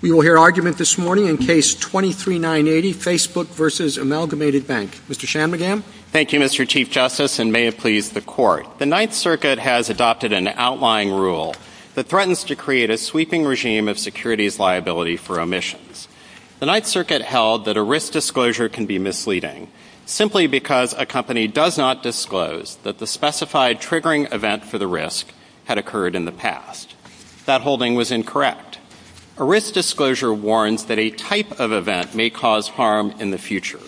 We will hear argument this morning in Case 23-980, Facebook v. Amalgamated Bank. Mr. Shanmugam? Thank you, Mr. Chief Justice, and may it please the Court. The Ninth Circuit has adopted an outlying rule that threatens to create a sweeping regime of securities liability for omissions. The Ninth Circuit held that a risk disclosure can be misleading, simply because a company does not disclose that the specified triggering event for the risk had occurred in the past. That holding was incorrect. A risk disclosure warns that a type of event may cause harm in the future.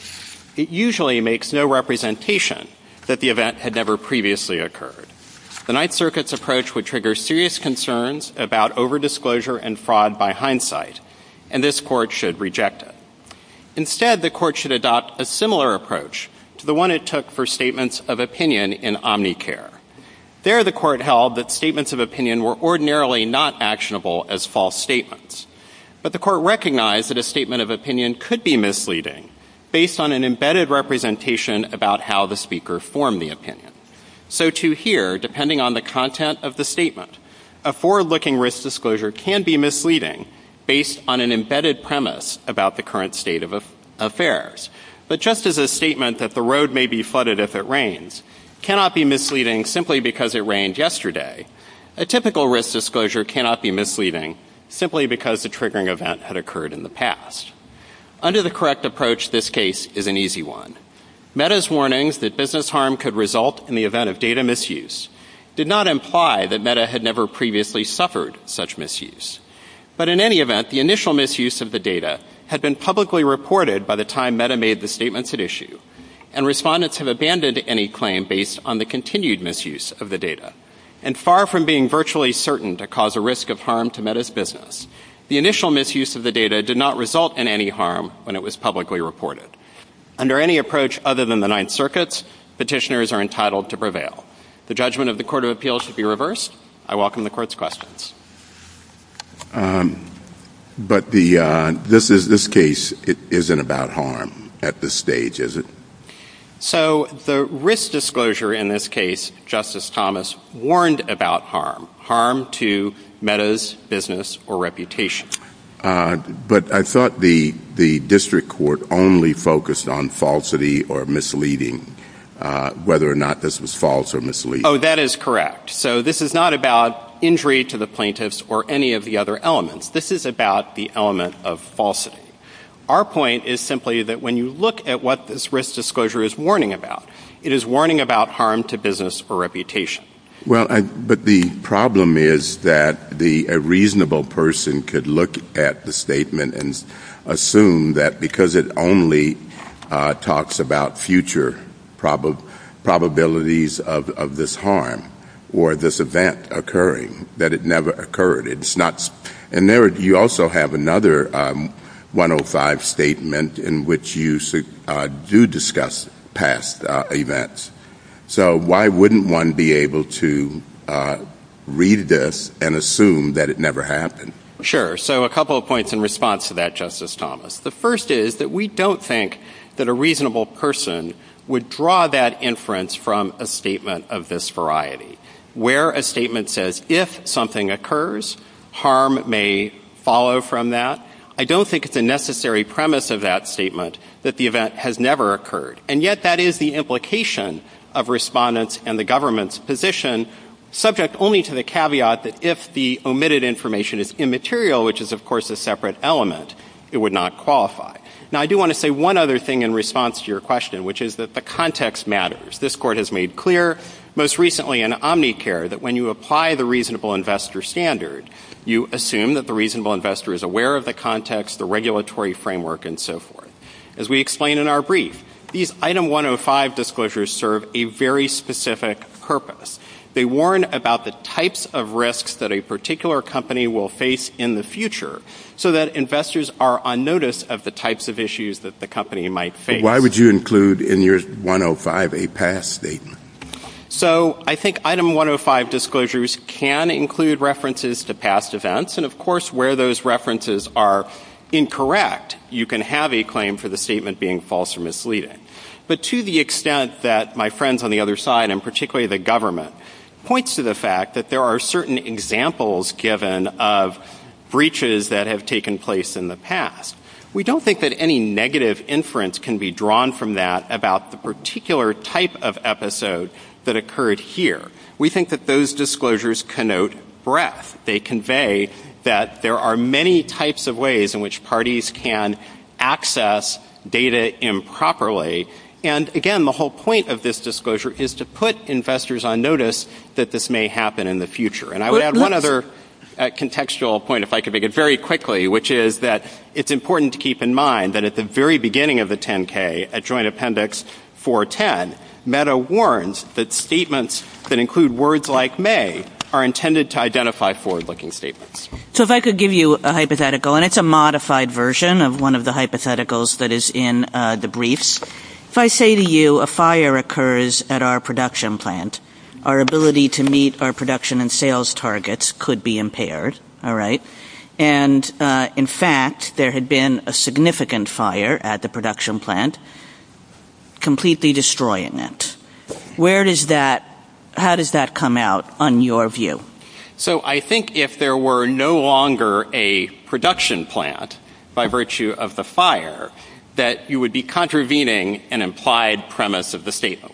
It usually makes no representation that the event had never previously occurred. The Ninth Circuit's approach would trigger serious concerns about overdisclosure and fraud by hindsight, and this Court should reject it. Instead, the Court should adopt a similar approach to the one it took for statements of opinion in Omnicare. There, the Court held that statements of opinion were ordinarily not actionable as false statements. But the Court recognized that a statement of opinion could be misleading, based on an embedded representation about how the speaker formed the opinion. So, to here, depending on the content of the statement, a forward-looking risk disclosure can be misleading, based on an embedded premise about the current state of affairs. But just as a statement that the road may be flooded if it rains cannot be misleading simply because it rained yesterday, a typical risk disclosure cannot be misleading simply because the triggering event had occurred in the past. Under the correct approach, this case is an easy one. MEDA's warnings that business harm could result in the event of data misuse did not imply that MEDA had never previously suffered such misuse. But in any event, the initial misuse of the data had been publicly reported by the time MEDA made the statements at issue, and respondents have abandoned any claim based on the continued misuse of the data. And far from being virtually certain to cause a risk of harm to MEDA's business, the initial misuse of the data did not result in any harm when it was publicly reported. Under any approach other than the Ninth Circuit, petitioners are entitled to prevail. The judgment of the Court of Appeals should be reversed. I welcome the Court's questions. But this case isn't about harm at this stage, is it? So the risk disclosure in this case, Justice Thomas, warned about harm, harm to MEDA's business or reputation. But I thought the district court only focused on falsity or misleading, whether or not this was false or misleading. Oh, that is correct. So this is not about injury to the plaintiffs or any of the other elements. This is about the element of falsity. Our point is simply that when you look at what this risk disclosure is warning about, it is warning about harm to business or reputation. Well, but the problem is that a reasonable person could look at the statement and assume that because it only talks about future probabilities of this harm or this event occurring, that it never occurred. And you also have another 105 statement in which you do discuss past events. So why wouldn't one be able to read this and assume that it never happened? Sure. So a couple of points in response to that, Justice Thomas. The first is that we don't think that a reasonable person would draw that inference from a statement of this variety. Where a statement says if something occurs, harm may follow from that, I don't think it's a necessary premise of that statement that the event has never occurred. And yet that is the implication of respondents and the government's position, subject only to the caveat that if the omitted information is immaterial, which is, of course, a separate element, it would not qualify. Now, I do want to say one other thing in response to your question, which is that the context matters. This Court has made clear, most recently in Omnicare, that when you apply the reasonable investor standard, you assume that the reasonable investor is aware of the context, the regulatory framework, and so forth. As we explain in our brief, these Item 105 disclosures serve a very specific purpose. They warn about the types of risks that a particular company will face in the future, so that investors are on notice of the types of issues that the company might face. Why would you include in your 105 a past statement? So I think Item 105 disclosures can include references to past events. And, of course, where those references are incorrect, you can have a claim for the statement being false or misleading. But to the extent that my friends on the other side, and particularly the government, points to the fact that there are certain examples given of breaches that have taken place in the past, we don't think that any negative inference can be drawn from that about the particular type of episode that occurred here. We think that those disclosures connote breadth. They convey that there are many types of ways in which parties can access data improperly. And, again, the whole point of this disclosure is to put investors on notice that this may happen in the future. And I would add one other contextual point, if I could make it very quickly, which is that it's important to keep in mind that at the very beginning of the 10-K, at Joint Appendix 410, Meta warns that statements that include words like may are intended to identify forward-looking statements. So if I could give you a hypothetical, and it's a modified version of one of the hypotheticals that is in the briefs. If I say to you a fire occurs at our production plant, our ability to meet our production and sales targets could be impaired. And, in fact, there had been a significant fire at the production plant, completely destroying it. How does that come out on your view? So I think if there were no longer a production plant by virtue of the fire, that you would be contravening an implied premise of the statement.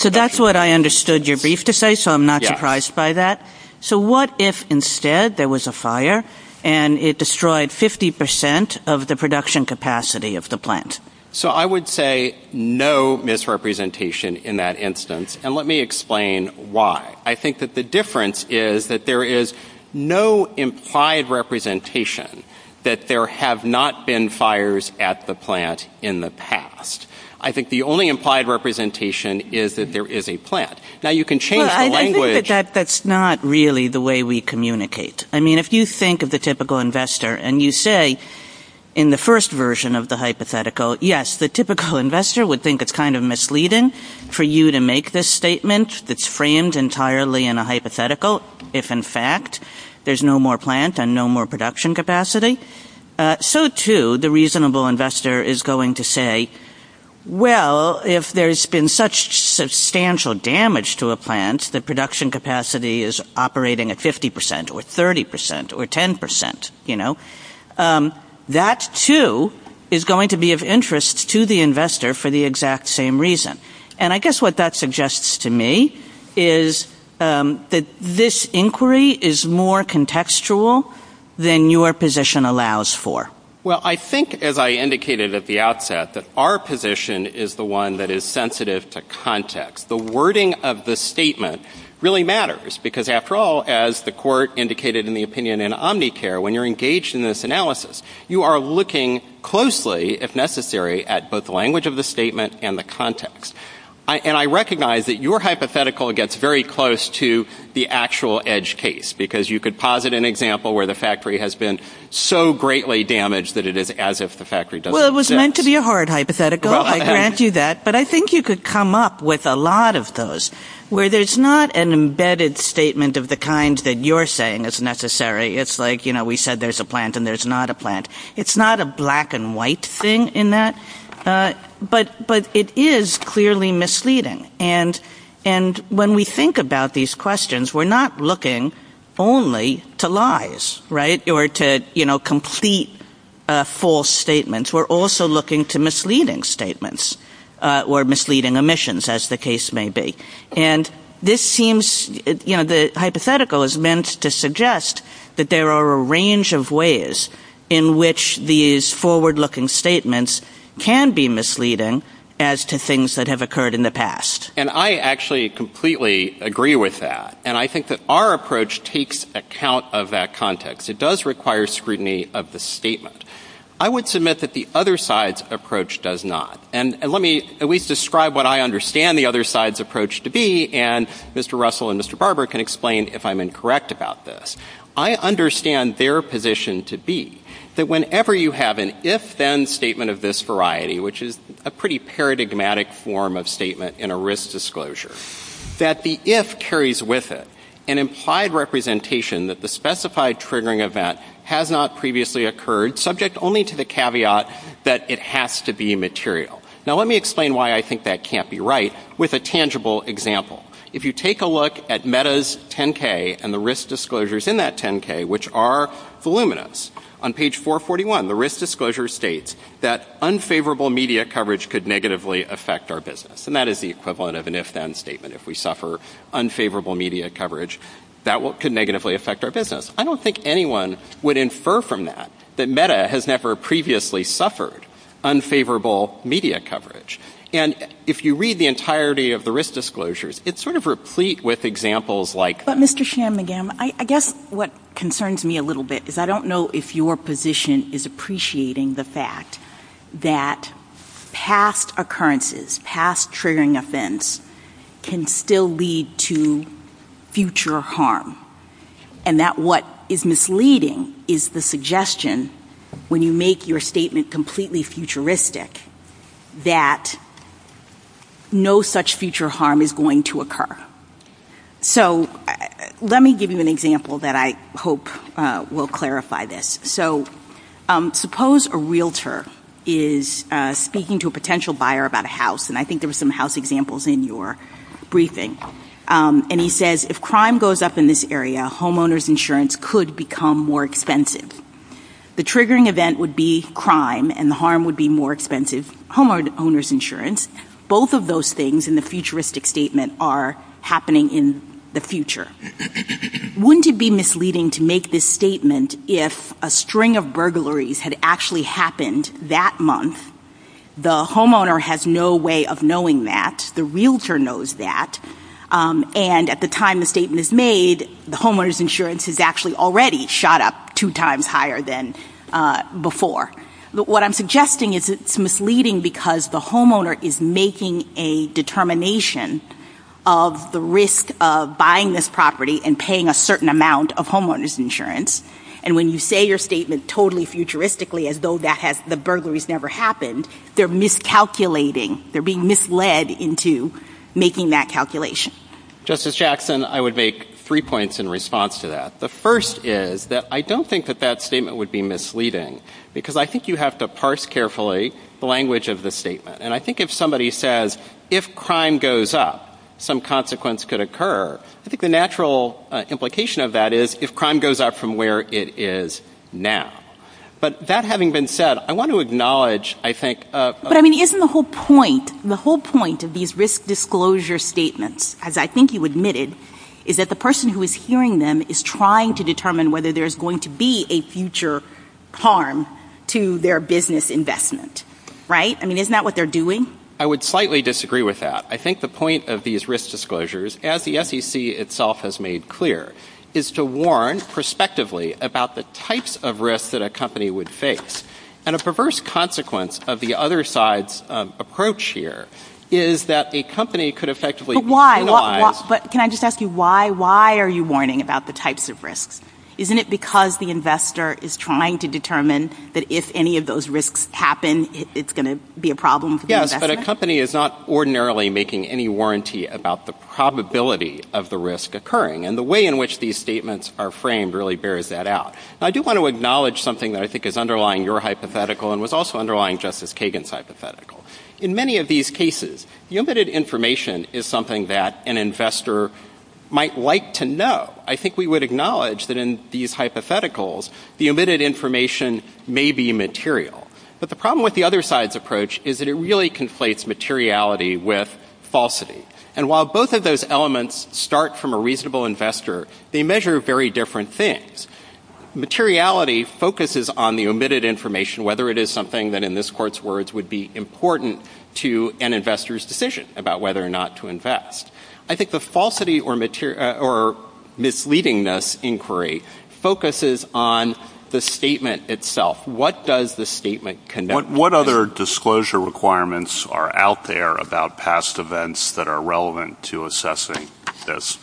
So that's what I understood your brief to say, so I'm not surprised by that. So what if instead there was a fire and it destroyed 50% of the production capacity of the plant? So I would say no misrepresentation in that instance, and let me explain why. I think that the difference is that there is no implied representation that there have not been fires at the plant in the past. I think the only implied representation is that there is a plant. I think that that's not really the way we communicate. I mean, if you think of the typical investor and you say in the first version of the hypothetical, yes, the typical investor would think it's kind of misleading for you to make this statement that's framed entirely in a hypothetical if, in fact, there's no more plant and no more production capacity. So, too, the reasonable investor is going to say, well, if there's been such substantial damage to a plant, the production capacity is operating at 50% or 30% or 10%, you know, that, too, is going to be of interest to the investor for the exact same reason. And I guess what that suggests to me is that this inquiry is more contextual than your position allows for. Well, I think, as I indicated at the outset, that our position is the one that is sensitive to context. The wording of the statement really matters because, after all, as the court indicated in the opinion in Omnicare when you're engaged in this analysis, you are looking closely, if necessary, at both the language of the statement and the context. And I recognize that your hypothetical gets very close to the actual edge case because you could posit an example where the factory has been so greatly damaged that it is as if the factory doesn't exist. Well, it was meant to be a hard hypothetical. I grant you that. But I think you could come up with a lot of those where there's not an embedded statement of the kind that you're saying is necessary. It's like, you know, we said there's a plant and there's not a plant. It's not a black and white thing in that, but it is clearly misleading. And when we think about these questions, we're not looking only to lies, right, or to, you know, complete false statements. We're also looking to misleading statements or misleading omissions, as the case may be. And this seems, you know, the hypothetical is meant to suggest that there are a range of ways in which these forward-looking statements can be misleading as to things that have occurred in the past. And I actually completely agree with that. And I think that our approach takes account of that context. It does require scrutiny of the statement. I would submit that the other side's approach does not. And let me at least describe what I understand the other side's approach to be, and Mr. Russell and Mr. Barber can explain if I'm incorrect about this. I understand their position to be that whenever you have an if-then statement of this variety, which is a pretty paradigmatic form of statement in a risk disclosure, that the if carries with it an implied representation that the specified triggering event has not previously occurred, subject only to the caveat that it has to be material. Now let me explain why I think that can't be right with a tangible example. If you take a look at META's 10-K and the risk disclosures in that 10-K, which are voluminous, on page 441, the risk disclosure states that unfavorable media coverage could negatively affect our business. And that is the equivalent of an if-then statement. If we suffer unfavorable media coverage, that could negatively affect our business. I don't think anyone would infer from that that META has never previously suffered unfavorable media coverage. And if you read the entirety of the risk disclosures, it's sort of replete with examples like that. But Mr. Shanmugam, I guess what concerns me a little bit is I don't know if your position is appreciating the fact that past occurrences, past triggering offense, can still lead to future harm. And that what is misleading is the suggestion, when you make your statement completely futuristic, that no such future harm is going to occur. So let me give you an example that I hope will clarify this. So suppose a realtor is speaking to a potential buyer about a house. And I think there were some house examples in your briefing. And he says, if crime goes up in this area, homeowners insurance could become more expensive. The triggering event would be crime, and the harm would be more expensive. Homeowners insurance, both of those things in the futuristic statement are happening in the future. Wouldn't it be misleading to make this statement if a string of burglaries had actually happened that month? The homeowner has no way of knowing that. The realtor knows that. And at the time the statement is made, the homeowners insurance has actually already shot up two times higher than before. But what I'm suggesting is it's misleading because the homeowner is making a determination of the risk of buying this property and paying a certain amount of homeowners insurance. And when you say your statement totally futuristically, as though the burglaries never happened, they're miscalculating, they're being misled into making that calculation. Justice Jackson, I would make three points in response to that. The first is that I don't think that that statement would be misleading, because I think you have to parse carefully the language of the statement. And I think if somebody says, if crime goes up, some consequence could occur, I think the natural implication of that is if crime goes up from where it is now. But that having been said, I want to acknowledge, I think— But, I mean, isn't the whole point, the whole point of these risk disclosure statements, as I think you admitted, is that the person who is hearing them is trying to determine whether there's going to be a future harm to their business investment. Right? I mean, isn't that what they're doing? I would slightly disagree with that. I think the point of these risk disclosures, as the SEC itself has made clear, is to warn prospectively about the types of risks that a company would face. And a perverse consequence of the other side's approach here is that a company could effectively— But why? Can I just ask you why? Why are you warning about the types of risks? Isn't it because the investor is trying to determine that if any of those risks happen, it's going to be a problem for the investor? Yes, but a company is not ordinarily making any warranty about the probability of the risk occurring. And the way in which these statements are framed really bears that out. I do want to acknowledge something that I think is underlying your hypothetical and was also underlying Justice Kagan's hypothetical. In many of these cases, the omitted information is something that an investor might like to know. I think we would acknowledge that in these hypotheticals, the omitted information may be material. But the problem with the other side's approach is that it really conflates materiality with falsity. And while both of those elements start from a reasonable investor, they measure very different things. Materiality focuses on the omitted information, whether it is something that in this Court's words would be important to an investor's decision about whether or not to invest. I think the falsity or misleadingness inquiry focuses on the statement itself. What does the statement connect to? What other disclosure requirements are out there about past events that are relevant to assessing this?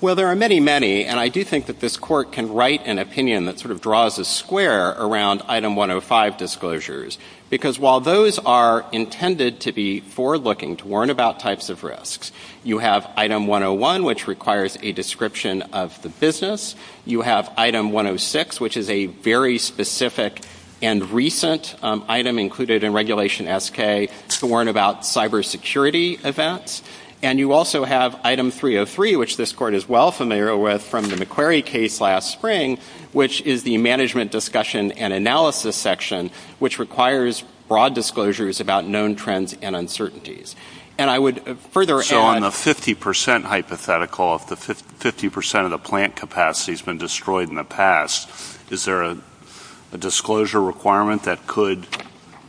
Well, there are many, many. And I do think that this Court can write an opinion that sort of draws a square around Item 105 disclosures. Because while those are intended to be forward-looking, to warn about types of risks, you have Item 101, which requires a description of the business. You have Item 106, which is a very specific and recent item included in Regulation SK to warn about cybersecurity events. And you also have Item 303, which this Court is well familiar with from the McQuarrie case last spring, which is the management discussion and analysis section, which requires broad disclosures about known trends and uncertainties. And I would further add... So on the 50% hypothetical, if the 50% of the plant capacity has been destroyed in the past, is there a disclosure requirement that could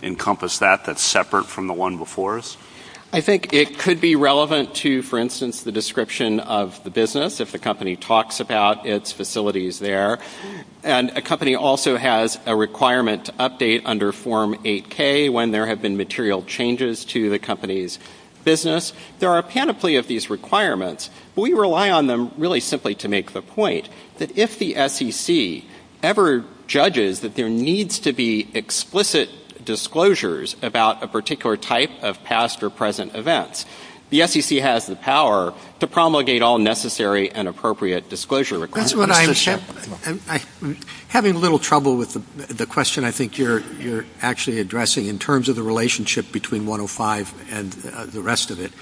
encompass that that's separate from the one before us? I think it could be relevant to, for instance, the description of the business, if the company talks about its facilities there. And a company also has a requirement to update under Form 8K when there have been material changes to the company's business. There are a panoply of these requirements. But we rely on them really simply to make the point that if the SEC ever judges that there needs to be explicit disclosures about a particular type of past or present events, the SEC has the power to promulgate all necessary and appropriate disclosure requirements. Having a little trouble with the question I think you're actually addressing in terms of the relationship between 105 and the rest of it.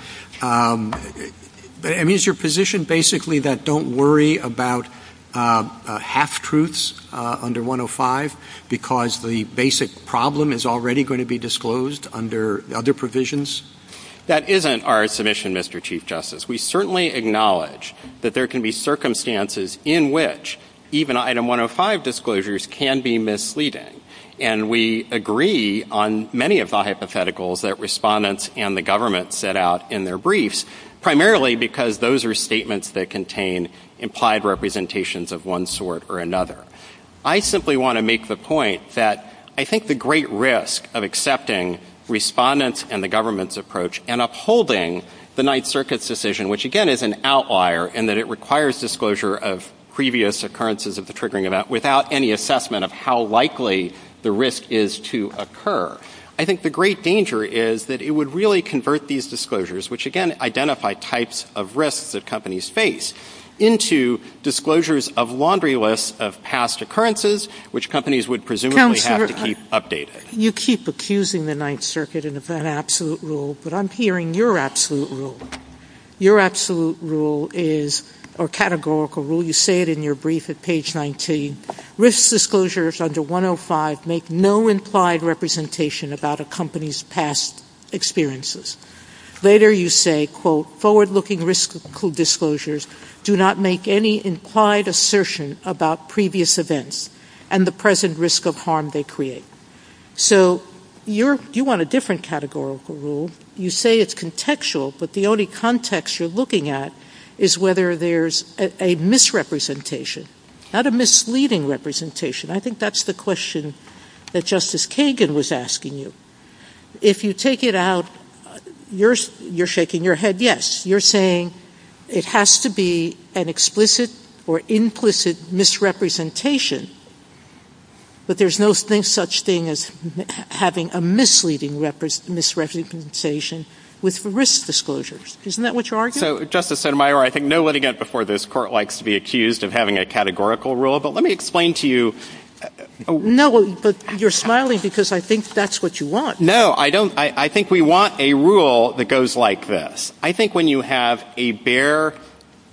I mean, is your position basically that don't worry about half-truths under 105 because the basic problem is already going to be disclosed under other provisions? That isn't our submission, Mr. Chief Justice. We certainly acknowledge that there can be circumstances in which even Item 105 disclosures can be misleading. And we agree on many of the hypotheticals that respondents and the government set out in their briefs, primarily because those are statements that contain implied representations of one sort or another. I simply want to make the point that I think the great risk of accepting respondents and the government's approach and upholding the Ninth Circuit's decision, which again is an outlier in that it requires disclosure of previous occurrences of the triggering event without any assessment of how likely the risk is to occur. I think the great danger is that it would really convert these disclosures, which again identify types of risks that companies face, into disclosures of laundry lists of past occurrences, which companies would presumably have to keep updating. You keep accusing the Ninth Circuit of that absolute rule, but I'm hearing your absolute rule. Your absolute rule is, or categorical rule, you say it in your brief at page 19, risk disclosures under 105 make no implied representation about a company's past experiences. Later you say, quote, forward-looking risk disclosures do not make any implied assertion about previous events and the present risk of harm they create. So you want a different categorical rule. You say it's contextual, but the only context you're looking at is whether there's a misrepresentation, not a misleading representation. I think that's the question that Justice Kagan was asking you. If you take it out, you're shaking your head yes. You're saying it has to be an explicit or implicit misrepresentation, but there's no such thing as having a misleading misrepresentation with risk disclosures. Isn't that what you're arguing? So, Justice Sotomayor, I think no litigant before this court likes to be accused of having a categorical rule, but let me explain to you. No, but you're smiling because I think that's what you want. No, I don't. I think we want a rule that goes like this. I think when you have a bare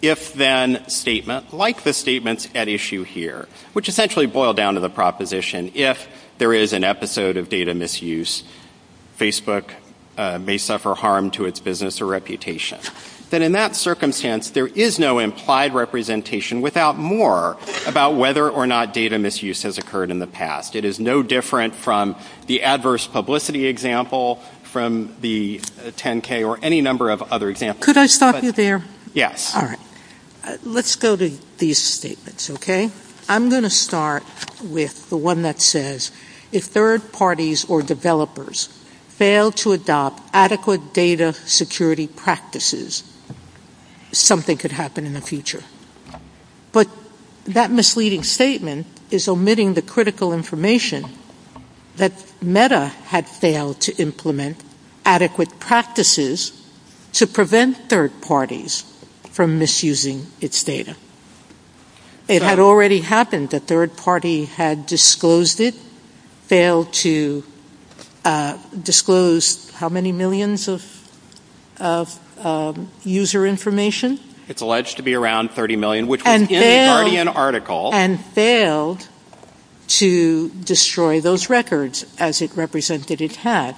if-then statement, like the statements at issue here, which essentially boil down to the proposition, if there is an episode of data misuse, Facebook may suffer harm to its business or reputation. Then in that circumstance, there is no implied representation without more about whether or not data misuse has occurred in the past. It is no different from the adverse publicity example from the 10-K or any number of other examples. Could I stop you there? Yes. All right. Let's go to these statements, okay? I'm going to start with the one that says, if third parties or developers fail to adopt adequate data security practices, something could happen in the future. But that misleading statement is omitting the critical information that Meta had failed to implement adequate practices to prevent third parties from misusing its data. It had already happened. A third party had disclosed it, failed to disclose how many millions of user information. It's alleged to be around 30 million, which was in the Guardian article. And failed to destroy those records as it represented it had.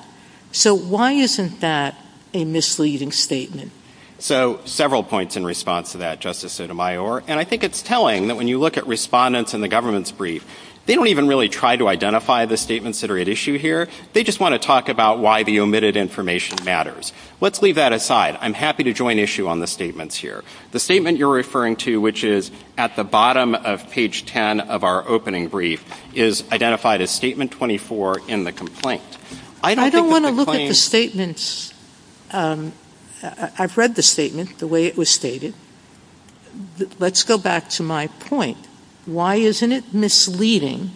So why isn't that a misleading statement? So several points in response to that, Justice Sotomayor. And I think it's telling that when you look at respondents in the government's brief, they don't even really try to identify the statements that are at issue here. They just want to talk about why the omitted information matters. Let's leave that aside. I'm happy to join issue on the statements here. The statement you're referring to, which is at the bottom of page 10 of our opening brief, is identified as statement 24 in the complaint. I don't think that the claim — I don't want to look at the statements. I've read the statement the way it was stated. Let's go back to my point. Why isn't it misleading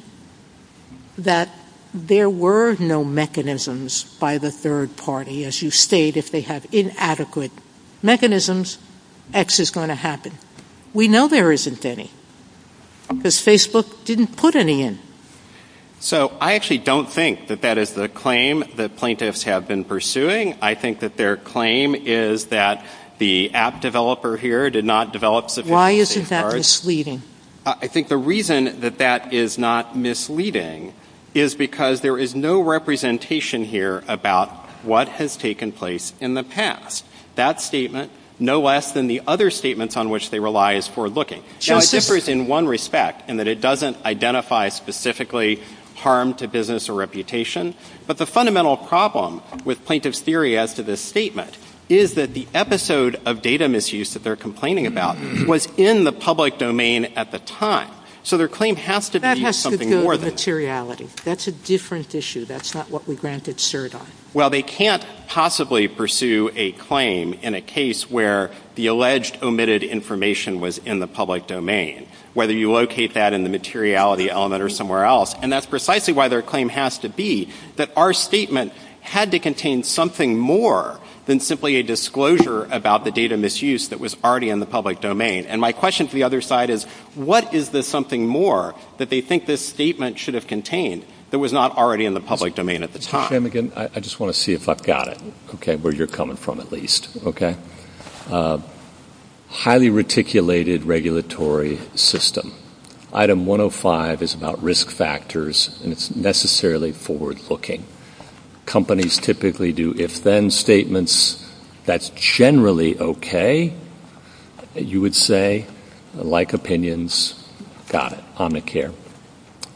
that there were no mechanisms by the third party, as you state, if they have inadequate mechanisms, X is going to happen? We know there isn't any because Facebook didn't put any in. So I actually don't think that that is the claim that plaintiffs have been pursuing. I think that their claim is that the app developer here did not develop sufficient safeguards. Why isn't that misleading? I think the reason that that is not misleading is because there is no representation here about what has taken place in the past. That statement, no less than the other statements on which they rely, is for looking. Now, it differs in one respect in that it doesn't identify specifically harm to business or reputation. But the fundamental problem with plaintiff's theory as to this statement is that the episode of data misuse that they're complaining about was in the public domain at the time. So their claim has to be something more than that. That has to do with materiality. That's a different issue. That's not what we granted cert on. Well, they can't possibly pursue a claim in a case where the alleged omitted information was in the public domain, whether you locate that in the materiality element or somewhere else. And that's precisely why their claim has to be that our statement had to contain something more than simply a disclosure about the data misuse that was already in the public domain. And my question to the other side is, what is the something more that they think this statement should have contained that was not already in the public domain at the time? I just want to see if I've got it, where you're coming from, at least. Highly reticulated regulatory system. Item 105 is about risk factors, and it's necessarily forward-looking. Companies typically do if-then statements. That's generally okay. You would say, like opinions, got it, Omnicare,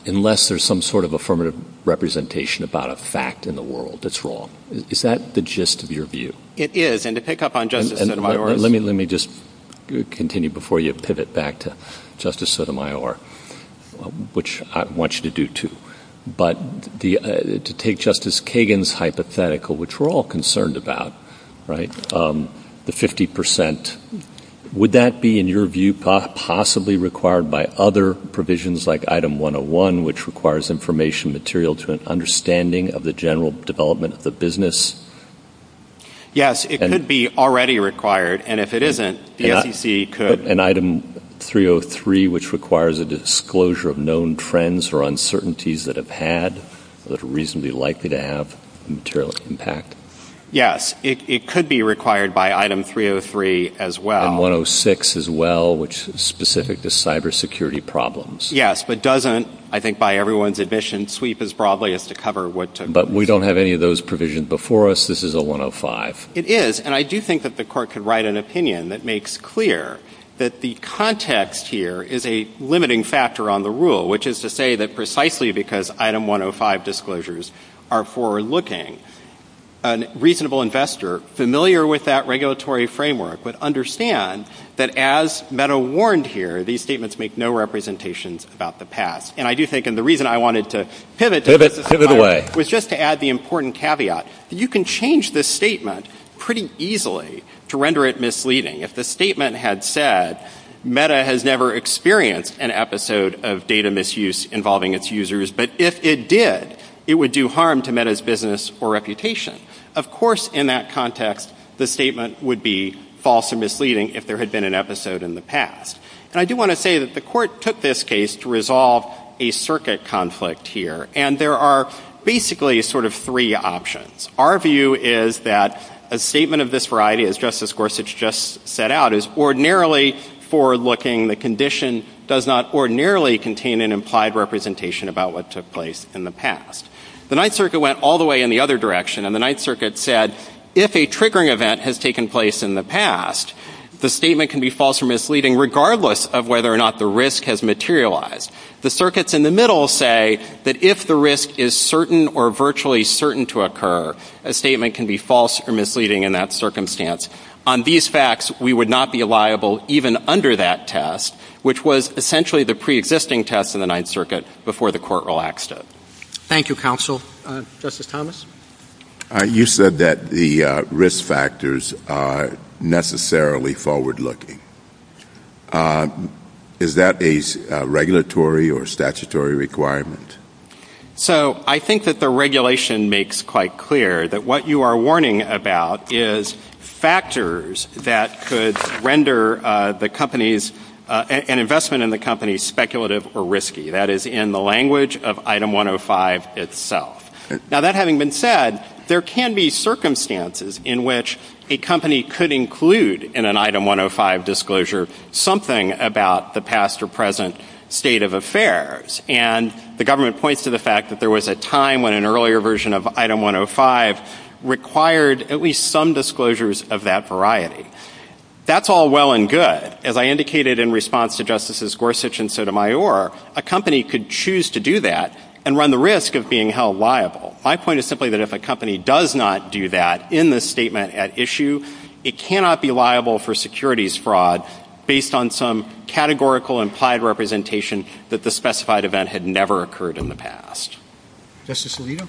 unless there's some sort of affirmative representation about a fact in the world that's wrong. Is that the gist of your view? It is. And to pick up on Justice Sotomayor- Let me just continue before you pivot back to Justice Sotomayor, which I want you to do, too. To take Justice Kagan's hypothetical, which we're all concerned about, the 50%, would that be, in your view, possibly required by other provisions like Item 101, which requires information material to an understanding of the general development of the business? Yes, it could be already required. And if it isn't, the SEC could- And Item 303, which requires a disclosure of known trends or uncertainties that have had or that are reasonably likely to have a material impact? Yes, it could be required by Item 303 as well. And 106 as well, which is specific to cybersecurity problems. Yes, but doesn't, I think by everyone's admission, sweep as broadly as to cover what- But we don't have any of those provisions before us. This is a 105. It is, and I do think that the Court could write an opinion that makes clear that the context here is a limiting factor on the rule, which is to say that precisely because Item 105 disclosures are forward-looking, a reasonable investor familiar with that regulatory framework would understand that as Meadow warned here, these statements make no representations about the past. And I do think, and the reason I wanted to pivot- Pivot, pivot away. Was just to add the important caveat. You can change the statement pretty easily to render it misleading. If the statement had said, Meadow has never experienced an episode of data misuse involving its users, but if it did, it would do harm to Meadow's business or reputation. Of course, in that context, the statement would be false or misleading if there had been an episode in the past. And I do want to say that the Court took this case to resolve a circuit conflict here, and there are basically sort of three options. Our view is that a statement of this variety, as Justice Gorsuch just set out, is ordinarily forward-looking. The condition does not ordinarily contain an implied representation about what took place in the past. The Ninth Circuit went all the way in the other direction, and the Ninth Circuit said, if a triggering event has taken place in the past, the statement can be false or misleading regardless of whether or not the risk has materialized. The circuits in the middle say that if the risk is certain or virtually certain to occur, a statement can be false or misleading in that circumstance. On these facts, we would not be liable even under that test, which was essentially the preexisting test in the Ninth Circuit before the Court relaxed it. Thank you, Counsel. Justice Thomas? You said that the risk factors are necessarily forward-looking. Is that a regulatory or statutory requirement? So I think that the regulation makes quite clear that what you are warning about is factors that could render an investment in the company speculative or risky. That is in the language of Item 105 itself. Now, that having been said, there can be circumstances in which a company could include in an Item 105 disclosure something about the past or present state of affairs. And the government points to the fact that there was a time when an earlier version of Item 105 required at least some disclosures of that variety. That's all well and good. As I indicated in response to Justices Gorsuch and Sotomayor, a company could choose to do that and run the risk of being held liable. My point is simply that if a company does not do that in the statement at issue, it cannot be liable for securities fraud based on some categorical implied representation that the specified event had never occurred in the past. Justice Alito?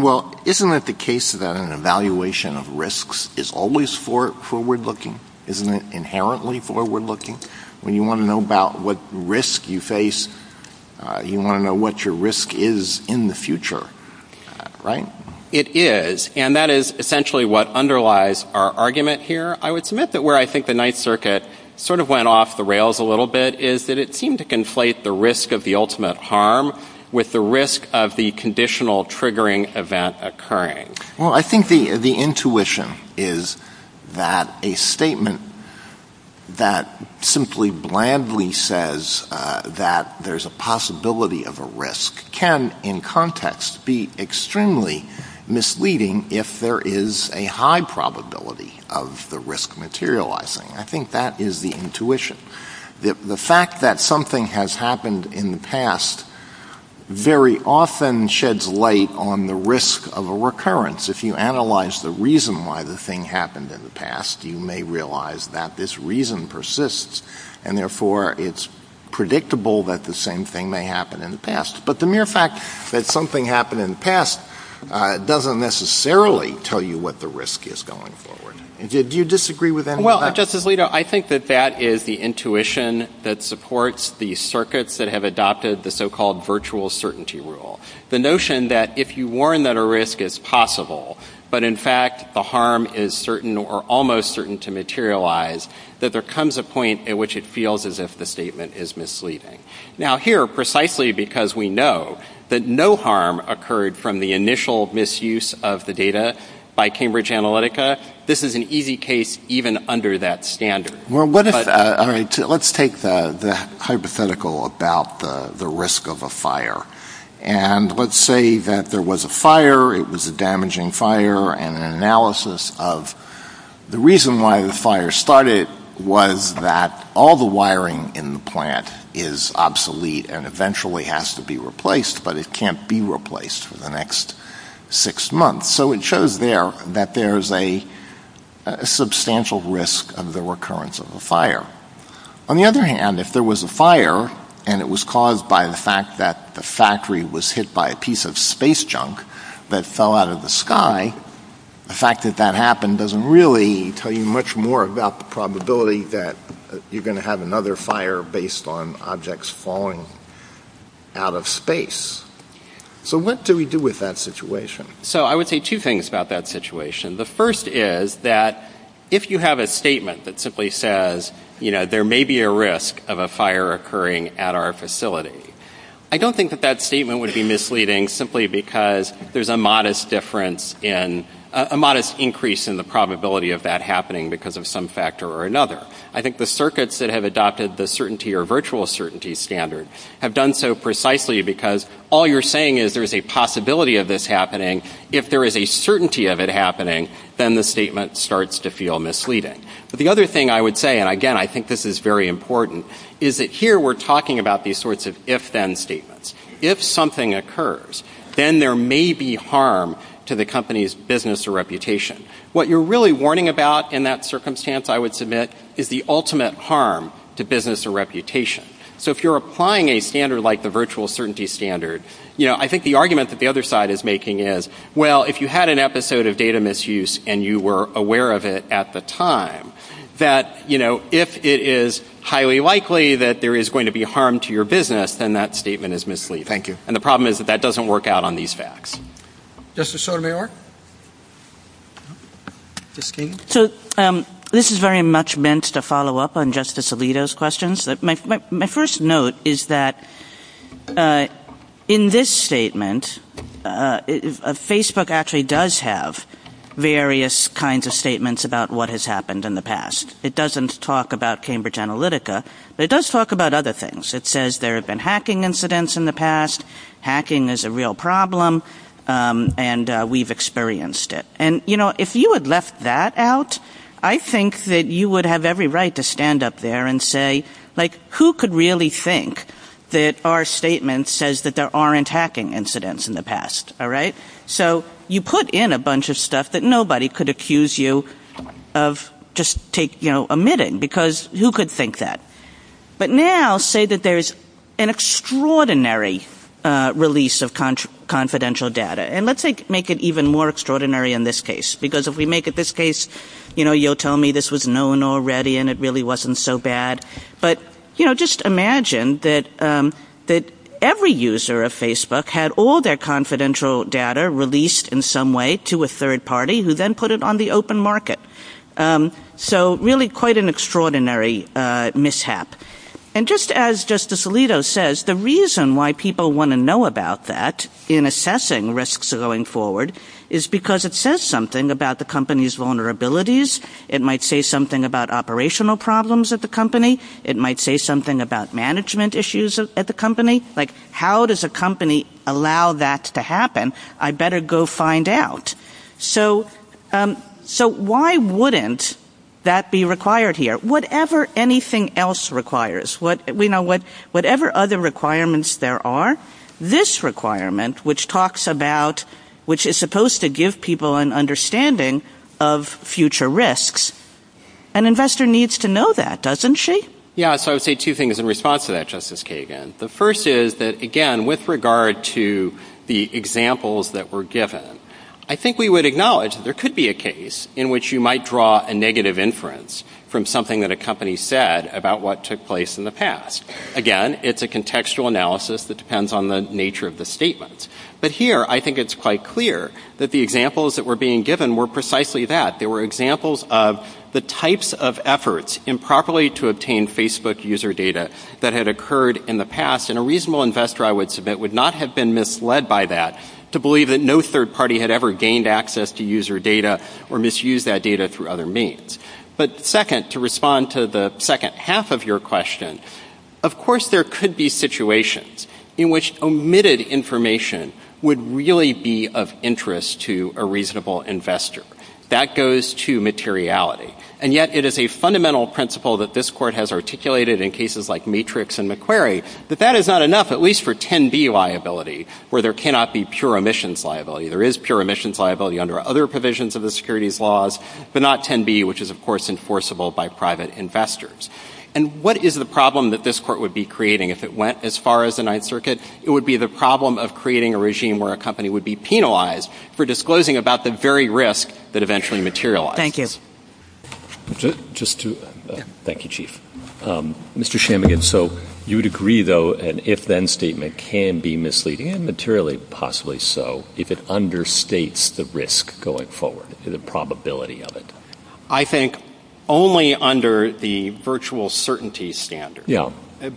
Well, isn't it the case that an evaluation of risks is always forward-looking? Isn't it inherently forward-looking? When you want to know about what risk you face, you want to know what your risk is in the future, right? It is, and that is essentially what underlies our argument here. I would submit that where I think the Ninth Circuit sort of went off the rails a little bit is that it seemed to conflate the risk of the ultimate harm with the risk of the conditional triggering event occurring. Well, I think the intuition is that a statement that simply blandly says that there's a possibility of a risk can, in context, be extremely misleading if there is a high probability of the risk materializing. I think that is the intuition. The fact that something has happened in the past very often sheds light on the risk of a recurrence. If you analyze the reason why the thing happened in the past, you may realize that this reason persists, and therefore it's predictable that the same thing may happen in the past. But the mere fact that something happened in the past doesn't necessarily tell you what the risk is going forward. Do you disagree with that? Well, Justice Alito, I think that that is the intuition that supports the circuits that have adopted the so-called virtual certainty rule. The notion that if you warn that a risk is possible, but in fact the harm is certain or almost certain to materialize, that there comes a point at which it feels as if the statement is misleading. Now here, precisely because we know that no harm occurred from the initial misuse of the data by Cambridge Analytica, this is an easy case even under that standard. Well, let's take the hypothetical about the risk of a fire. And let's say that there was a fire, it was a damaging fire, and an analysis of the reason why the fire started was that all the wiring in the plant is obsolete and eventually has to be replaced, but it can't be replaced for the next six months. So it shows there that there is a substantial risk of the recurrence of the fire. On the other hand, if there was a fire, and it was caused by the fact that the factory was hit by a piece of space junk that fell out of the sky, the fact that that happened doesn't really tell you much more about the probability that you're going to have another fire based on objects falling out of space. So what do we do with that situation? So I would say two things about that situation. The first is that if you have a statement that simply says, you know, there may be a risk of a fire occurring at our facility, I don't think that that statement would be misleading simply because there's a modest difference in, a modest increase in the probability of that happening because of some factor or another. I think the circuits that have adopted the certainty or virtual certainty standard have done so precisely because all you're saying is there's a possibility of this happening. If there is a certainty of it happening, then the statement starts to feel misleading. But the other thing I would say, and again, I think this is very important, is that here we're talking about these sorts of if-then statements. If something occurs, then there may be harm to the company's business or reputation. What you're really warning about in that circumstance, I would submit, is the ultimate harm to business or reputation. So if you're applying a standard like the virtual certainty standard, you know, I think the argument that the other side is making is, well, if you had an episode of data misuse and you were aware of it at the time, that, you know, if it is highly likely that there is going to be harm to your business, then that statement is misleading. And the problem is that that doesn't work out on these facts. Justice Sotomayor? So this is very much meant to follow up on Justice Alito's questions. My first note is that in this statement, Facebook actually does have various kinds of statements about what has happened in the past. It doesn't talk about Cambridge Analytica, but it does talk about other things. It says there have been hacking incidents in the past. Hacking is a real problem, and we've experienced it. And, you know, if you had left that out, I think that you would have every right to stand up there and say, like, who could really think that our statement says that there aren't hacking incidents in the past? All right? So you put in a bunch of stuff that nobody could accuse you of just, you know, omitting, because who could think that? But now say that there's an extraordinary release of confidential data. And let's make it even more extraordinary in this case, because if we make it this case, you know, you'll tell me this was known already, and it really wasn't so bad. But, you know, just imagine that every user of Facebook had all their confidential data released in some way to a third party who then put it on the open market. So really quite an extraordinary mishap. And just as Justice Alito says, the reason why people want to know about that in assessing risks going forward is because it says something about the company's vulnerabilities. It might say something about operational problems at the company. It might say something about management issues at the company. Like, how does a company allow that to happen? I'd better go find out. So why wouldn't that be required here? Whatever anything else requires, you know, whatever other requirements there are, this requirement which talks about, which is supposed to give people an understanding of future risks, an investor needs to know that, doesn't she? Yeah, so I would say two things in response to that, Justice Kagan. The first is that, again, with regard to the examples that were given, I think we would acknowledge that there could be a case in which you might draw a negative inference from something that a company said about what took place in the past. Again, it's a contextual analysis that depends on the nature of the statement. But here, I think it's quite clear that the examples that were being given were precisely that. They were examples of the types of efforts improperly to obtain Facebook user data that had occurred in the past. And a reasonable investor, I would submit, would not have been misled by that to believe that no third party had ever gained access to user data or misused that data through other means. But second, to respond to the second half of your question, of course there could be situations in which omitted information would really be of interest to a reasonable investor. That goes to materiality. And yet, it is a fundamental principle that this Court has articulated in cases like Matrix and McQuarrie that that is not enough, at least for 10B liability, where there cannot be pure emissions liability. There is pure emissions liability under other provisions of the securities laws, but not 10B, which is, of course, enforceable by private investors. And what is the problem that this Court would be creating if it went as far as the Ninth Circuit? It would be the problem of creating a regime where a company would be penalized for disclosing about the very risk that eventually materialized. Thank you. Thank you, Chief. Mr. Shammigan, so you would agree, though, that an if-then statement can be misleading, and materially possibly so, if it understates the risk going forward, the probability of it? I think only under the virtual certainty standard,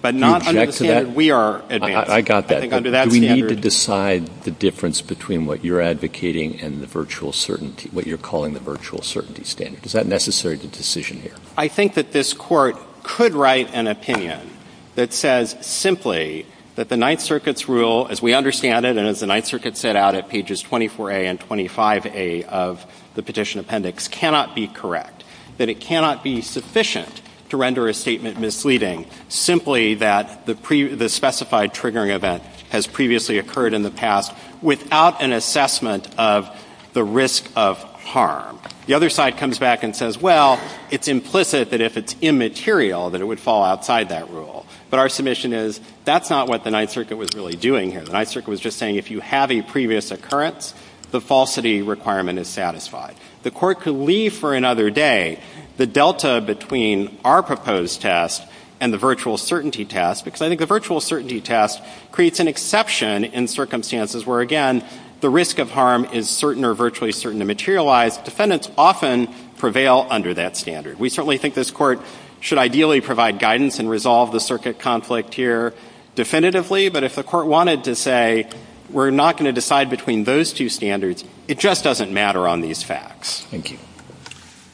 but not under the standard we are advancing. I got that. We need to decide the difference between what you're advocating and what you're calling the virtual certainty standard. Is that necessary as a decision here? I think that this Court could write an opinion that says simply that the Ninth Circuit's rule, as we understand it and as the Ninth Circuit set out at pages 24A and 25A of the petition appendix, cannot be correct, that it cannot be sufficient to render a statement misleading, simply that the specified triggering event has previously occurred in the past without an assessment of the risk of harm. The other side comes back and says, well, it's implicit that if it's immaterial, that it would fall outside that rule. But our submission is that's not what the Ninth Circuit was really doing here. The Ninth Circuit was just saying if you have a previous occurrence, the falsity requirement is satisfied. The Court could leave for another day the delta between our proposed test and the virtual certainty test, because I think the virtual certainty test creates an exception in circumstances where, again, the risk of harm is certain or virtually certain to materialize. Defendants often prevail under that standard. We certainly think this Court should ideally provide guidance and resolve the circuit conflict here definitively, but if the Court wanted to say we're not going to decide between those two standards, it just doesn't matter on these facts. Thank you.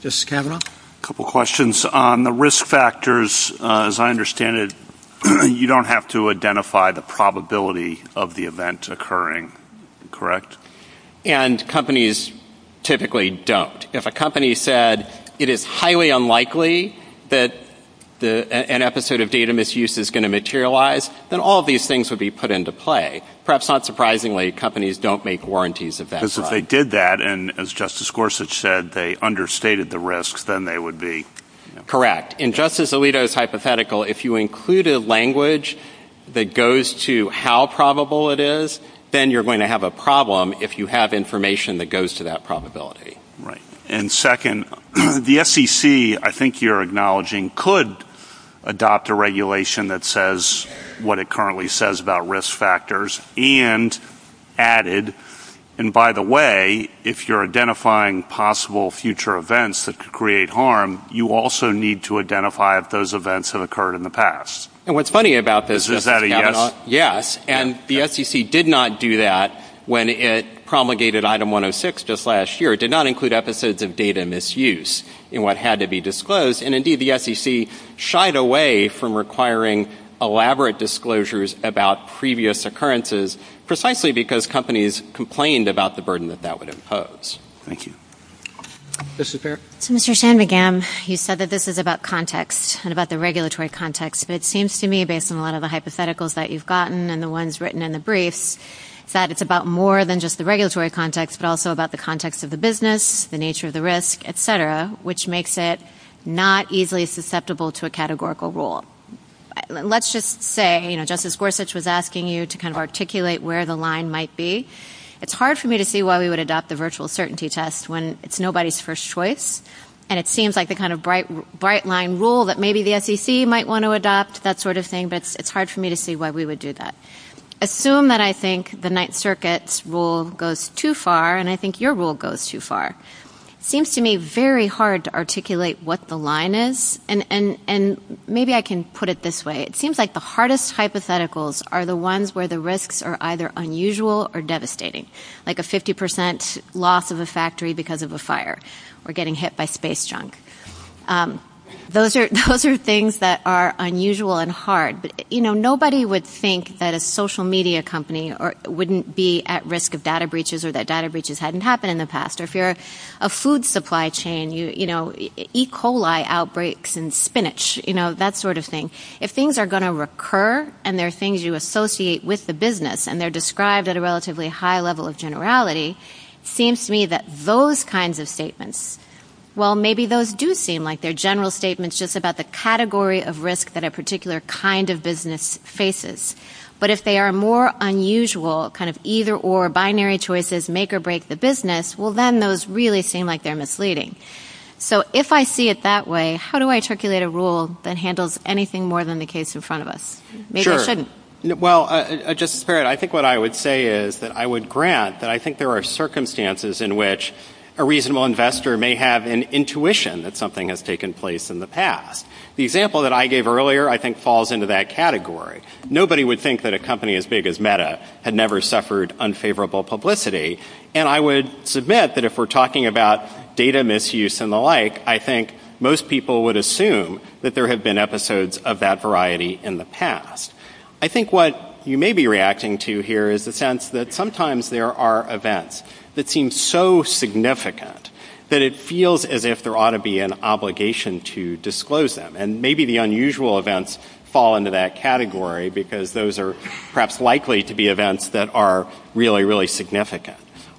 Justice Kavanaugh? A couple questions. The risk factors, as I understand it, you don't have to identify the probability of the event occurring, correct? And companies typically don't. If a company said it is highly unlikely that an episode of data misuse is going to materialize, then all these things would be put into play. Perhaps not surprisingly, companies don't make warranties at that time. If they did that, and as Justice Gorsuch said, they understated the risks, then they would be. Correct. In Justice Alito's hypothetical, if you include a language that goes to how probable it is, then you're going to have a problem if you have information that goes to that probability. Right. And second, the SEC, I think you're acknowledging, could adopt a regulation that says what it currently says about risk factors and added, and by the way, if you're identifying possible future events that could create harm, you also need to identify if those events have occurred in the past. And what's funny about this, Justice Kavanaugh, yes, and the SEC did not do that when it promulgated Item 106 just last year. It did not include episodes of data misuse in what had to be disclosed, and, indeed, the SEC shied away from requiring elaborate disclosures about previous occurrences, precisely because companies complained about the burden that that would impose. Thank you. Justice Garrett. Mr. Shanmugam, you said that this is about context and about the regulatory context, but it seems to me, based on a lot of the hypotheticals that you've gotten and the ones written in the brief, that it's about more than just the regulatory context, but also about the context of the business, the nature of the risk, et cetera, which makes it not easily susceptible to a categorical rule. Let's just say, you know, Justice Gorsuch was asking you to kind of articulate where the line might be. It's hard for me to see why we would adopt the virtual certainty test when it's nobody's first choice, and it seems like the kind of bright-line rule that maybe the SEC might want to adopt, that sort of thing, but it's hard for me to see why we would do that. Assume that I think the Ninth Circuit's rule goes too far, and I think your rule goes too far. It seems to me very hard to articulate what the line is, and maybe I can put it this way. It seems like the hardest hypotheticals are the ones where the risks are either unusual or devastating, like a 50 percent loss of a factory because of a fire or getting hit by space junk. Those are things that are unusual and hard. You know, nobody would think that a social media company wouldn't be at risk of data breaches or that data breaches hadn't happened in the past, or if you're a food supply chain, you know, E. coli outbreaks in spinach, you know, that sort of thing. If things are going to recur and there are things you associate with the business and they're described at a relatively high level of generality, it seems to me that those kinds of statements, well, maybe those do seem like they're general statements just about the category of risk that a particular kind of business faces. But if they are more unusual, kind of either or, binary choices, make or break the business, well, then those really seem like they're misleading. So if I see it that way, how do I articulate a rule that handles anything more than the case in front of us? Maybe I shouldn't. Well, Justice Barrett, I think what I would say is that I would grant that I think there are circumstances in which a reasonable investor may have an intuition that something has taken place in the past. The example that I gave earlier I think falls into that category. Nobody would think that a company as big as Meta had never suffered unfavorable publicity, and I would submit that if we're talking about data misuse and the like, I think most people would assume that there have been episodes of that variety in the past. I think what you may be reacting to here is the sense that sometimes there are events that seem so significant that it feels as if there ought to be an obligation to disclose them. And maybe the unusual events fall into that category because those are perhaps likely to be events that are really, really significant.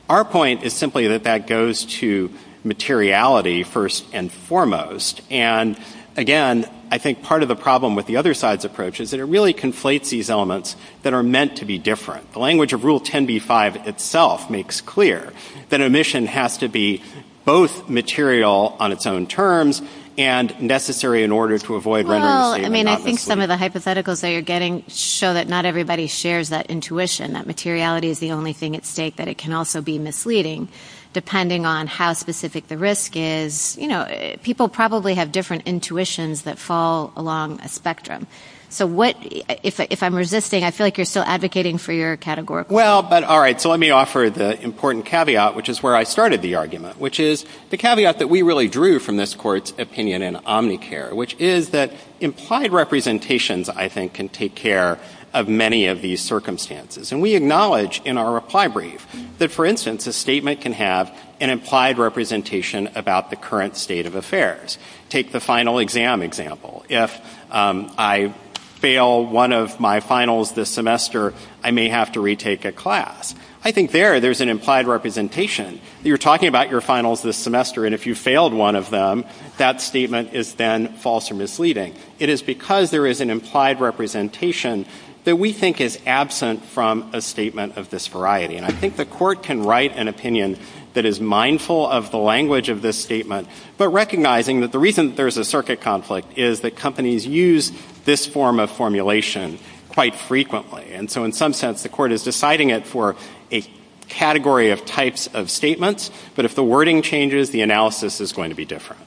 Our point is simply that that goes to materiality first and foremost. And again, I think part of the problem with the other side's approach is that it really conflates these elements that are meant to be different. The language of Rule 10b-5 itself makes clear that an omission has to be both material on its own terms and necessary in order to avoid reminiscence. Well, I mean, I think some of the hypotheticals that you're getting show that not everybody shares that intuition, that materiality is the only thing at stake, that it can also be misleading, depending on how specific the risk is. You know, people probably have different intuitions that fall along a spectrum. If I'm resisting, I feel like you're still advocating for your categorical. Well, but all right, so let me offer the important caveat, which is where I started the argument, which is the caveat that we really drew from this Court's opinion in Omnicare, which is that implied representations, I think, can take care of many of these circumstances. And we acknowledge in our reply brief that, for instance, a statement can have an implied representation about the current state of affairs. Take the final exam example. If I fail one of my finals this semester, I may have to retake a class. I think there, there's an implied representation. You're talking about your finals this semester, and if you failed one of them, that statement is then false or misleading. It is because there is an implied representation that we think is absent from a statement of this variety. And I think the Court can write an opinion that is mindful of the language of this statement, but recognizing that the reason there's a circuit conflict is that companies use this form of formulation quite frequently. And so in some sense, the Court is deciding it for a category of types of statements, but if the wording changes, the analysis is going to be different.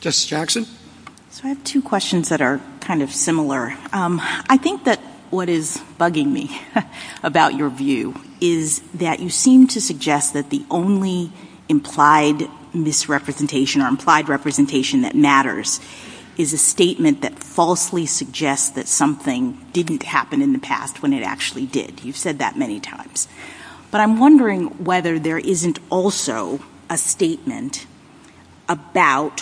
Justice Jackson? So I have two questions that are kind of similar. I think that what is bugging me about your view is that you seem to suggest that the only implied misrepresentation or implied representation that matters is a statement that falsely suggests that something didn't happen in the past when it actually did. You've said that many times. But I'm wondering whether there isn't also a statement about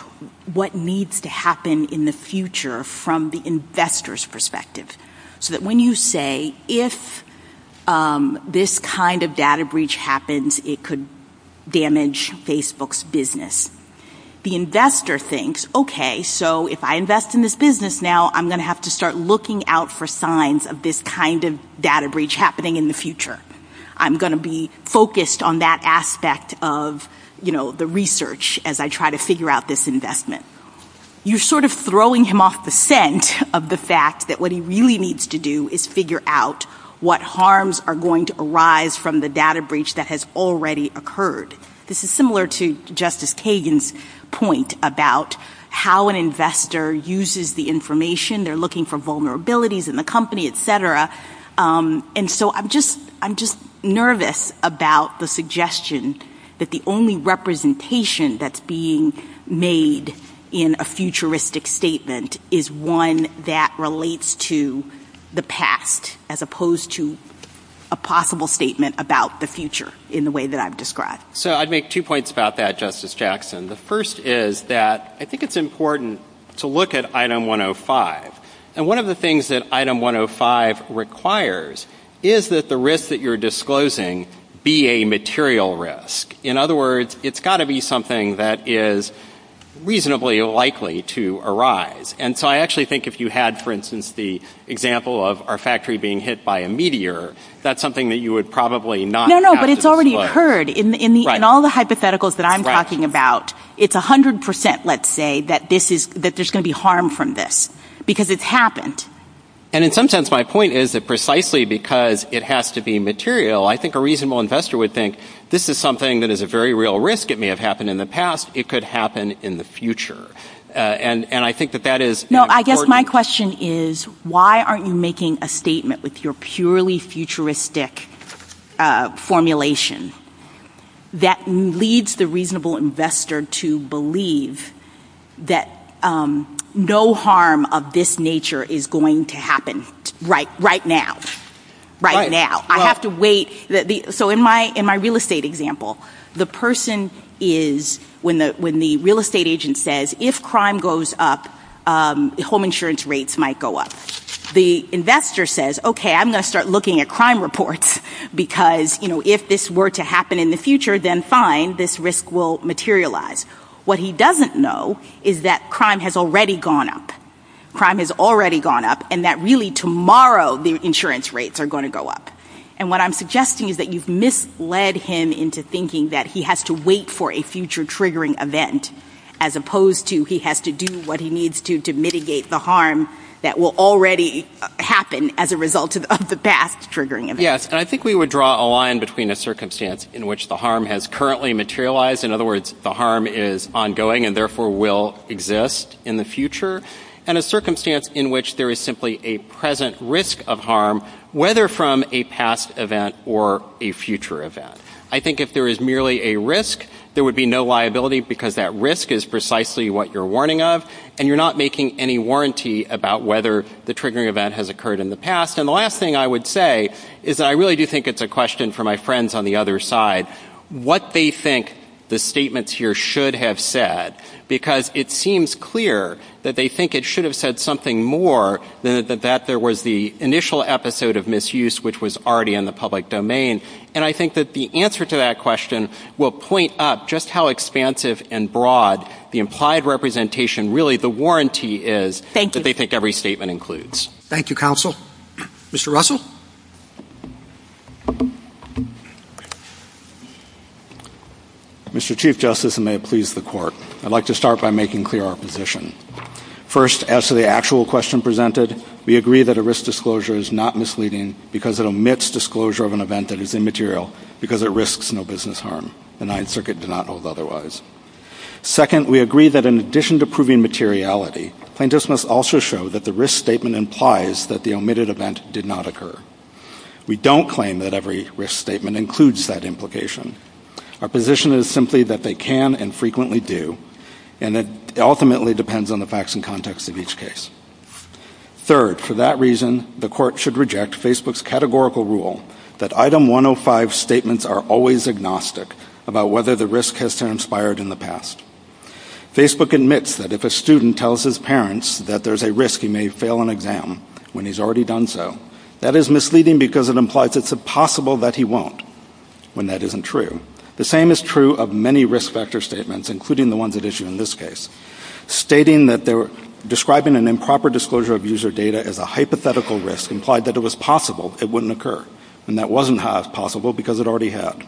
what needs to happen in the future from the investor's perspective, so that when you say, if this kind of data breach happens, it could damage Facebook's business, the investor thinks, okay, so if I invest in this business now, I'm going to have to start looking out for signs of this kind of data breach happening in the future. I'm going to be focused on that aspect of the research as I try to figure out this investment. You're sort of throwing him off the scent of the fact that what he really needs to do is figure out what harms are going to arise from the data breach that has already occurred. This is similar to Justice Kagan's point about how an investor uses the information. They're looking for vulnerabilities in the company, et cetera. I'm just nervous about the suggestion that the only representation that's being made in a futuristic statement is one that relates to the past as opposed to a possible statement about the future in the way that I've described. I'd make two points about that, Justice Jackson. The first is that I think it's important to look at Item 105. One of the things that Item 105 requires is that the risk that you're disclosing be a material risk. In other words, it's got to be something that is reasonably likely to arise. I actually think if you had, for instance, the example of our factory being hit by a meteor, that's something that you would probably not have to look at. No, but it's already occurred in all the hypotheticals that I'm talking about. It's 100%, let's say, that there's going to be harm from this. Because it's happened. And in some sense, my point is that precisely because it has to be material, I think a reasonable investor would think this is something that is a very real risk. It may have happened in the past. It could happen in the future. And I think that that is important. No, I guess my question is why aren't you making a statement with your purely futuristic formulation that leads the reasonable investor to believe that no harm of this nature is going to happen right now? Right now. I have to wait. So in my real estate example, the person is, when the real estate agent says, if crime goes up, home insurance rates might go up. The investor says, okay, I'm going to start looking at crime reports because if this were to happen in the future, then fine, this risk will materialize. What he doesn't know is that crime has already gone up. Crime has already gone up and that really tomorrow the insurance rates are going to go up. And what I'm suggesting is that you've misled him into thinking that he has to wait for a future triggering event as opposed to he has to do what he needs to do to mitigate the harm that will already happen as a result of the past triggering event. Yes, and I think we would draw a line between a circumstance in which the harm has currently materialized, in other words, the harm is ongoing and therefore will exist in the future, and a circumstance in which there is simply a present risk of harm, whether from a past event or a future event. I think if there is merely a risk, there would be no liability because that risk is precisely what you're warning of and you're not making any warranty about whether the triggering event has occurred in the past. And the last thing I would say is that I really do think it's a question for my friends on the other side, what they think the statements here should have said, because it seems clear that they think it should have said something more than that there was the initial episode of misuse, which was already in the public domain. And I think that the answer to that question will point up just how expansive and broad the implied representation, really the warranty is that they think every statement includes. Thank you, counsel. Mr. Russell? Mr. Chief Justice, and may it please the Court, I'd like to start by making clear our position. First, as to the actual question presented, we agree that a risk disclosure is not misleading because it omits disclosure of an event that is immaterial because it risks no business harm. The Ninth Circuit does not hold otherwise. Second, we agree that in addition to proving materiality, plaintiffs must also show that the risk statement implies that the omitted event did not occur. We don't claim that every risk statement includes that implication. Our position is simply that they can and frequently do, and it ultimately depends on the facts and context of each case. Third, for that reason, the Court should reject Facebook's categorical rule that Item 105 statements are always agnostic about whether the risk has transpired in the past. Facebook admits that if a student tells his parents that there's a risk he may fail an exam when he's already done so, that is misleading because it implies it's impossible that he won't, when that isn't true. The same is true of many risk factor statements, including the ones at issue in this case. Stating that describing an improper disclosure of user data as a hypothetical risk implied that it was possible it wouldn't occur, and that wasn't half possible because it already had.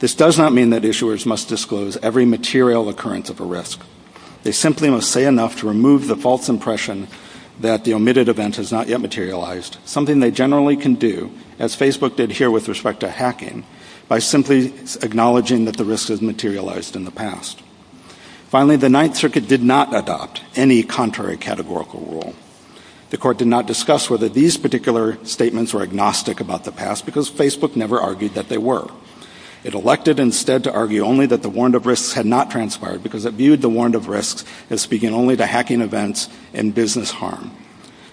This does not mean that issuers must disclose every material occurrence of a risk. They simply must say enough to remove the false impression that the omitted event has not yet materialized, something they generally can do, as Facebook did here with respect to hacking, by simply acknowledging that the risk has materialized in the past. Finally, the Ninth Circuit did not adopt any contrary categorical rule. The Court did not discuss whether these particular statements were agnostic about the past because Facebook never argued that they were. It elected instead to argue only that the warrant of risks had not transpired because it viewed the warrant of risks as speaking only to hacking events and business harm.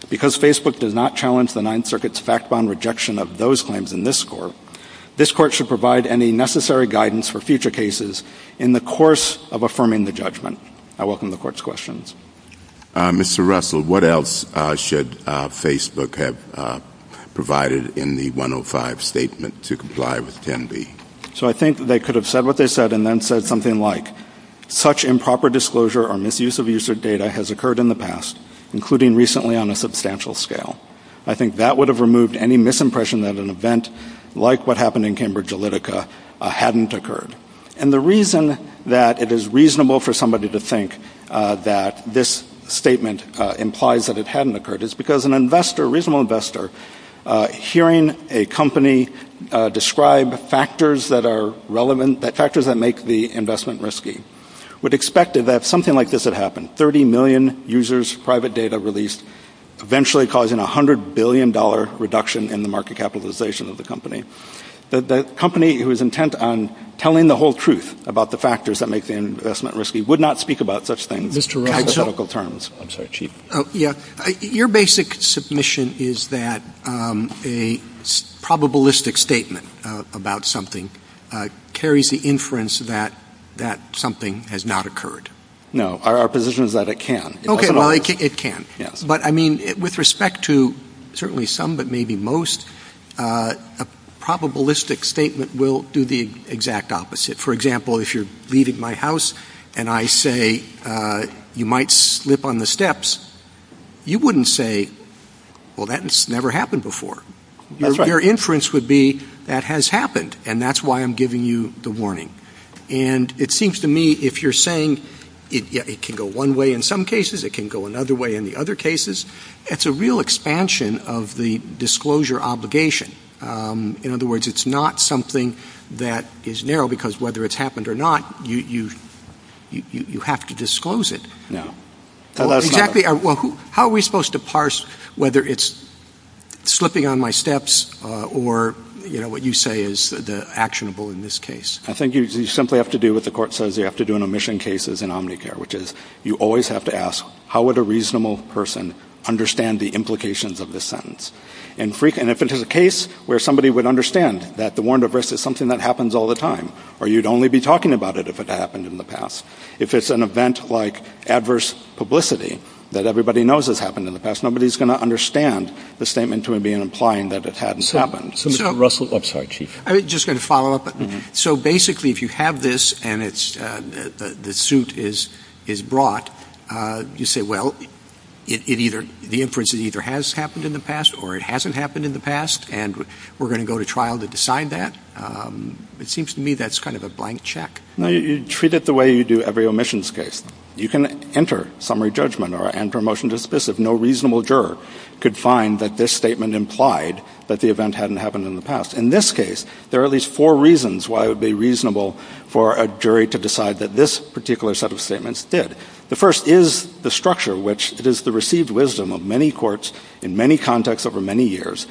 Because Facebook does not challenge the Ninth Circuit's fact-bound rejection of those claims in this Court, this Court should provide any necessary guidance for future cases in the course of affirming the judgment. I welcome the Court's questions. Mr. Russell, what else should Facebook have provided in the 105 Statement to comply with 10B? So I think they could have said what they said and then said something like, such improper disclosure or misuse of user data has occurred in the past, including recently on a substantial scale. I think that would have removed any misimpression that an event like what happened in Cambridge Analytica hadn't occurred. And the reason that it is reasonable for somebody to think that this statement implies that it hadn't occurred is because a reasonable investor, hearing a company describe factors that make the investment risky, would expect that something like this would happen, 30 million users, private data released, eventually causing a $100 billion reduction in the market capitalization of the company. The company who is intent on telling the whole truth about the factors that make the investment risky would not speak about such things in hypothetical terms. Your basic submission is that a probabilistic statement about something carries the inference that something has not occurred. No, our position is that it can. OK, well, it can. But I mean, with respect to certainly some, but maybe most, a probabilistic statement will do the exact opposite. For example, if you're leaving my house and I say you might slip on the steps, you wouldn't say, well, that's never happened before. Your inference would be that has happened, and that's why I'm giving you the warning. And it seems to me if you're saying it can go one way in some cases, it can go another way in the other cases, it's a real expansion of the disclosure obligation. In other words, it's not something that is narrow because whether it's happened or not, you have to disclose it. Exactly. Well, how are we supposed to parse whether it's slipping on my steps or what you say is actionable in this case? I think you simply have to do what the court says you have to do in omission cases in Omnicare, which is you always have to ask how would a reasonable person understand the implications of this sentence. And if it is a case where somebody would understand that the warrant of arrest is something that happens all the time or you'd only be talking about it if it happened in the past, if it's an event like adverse publicity that everybody knows has happened in the past, nobody's going to understand the statement to him being implying that it hadn't happened. I'm just going to follow up. So basically, if you have this and the suit is brought, you say, well, the inference either has happened in the past or it hasn't happened in the past and we're going to go to trial to decide that. It seems to me that's kind of a blank check. You treat it the way you do every omissions case. You can enter summary judgment and promotion to dismiss if no reasonable juror could find that this statement implied that the event hadn't happened in the past. In this case, there are at least four reasons why it would be reasonable for a jury to decide that this particular set of statements did. The first is the structure, which is the received wisdom of many courts in many contexts over many years,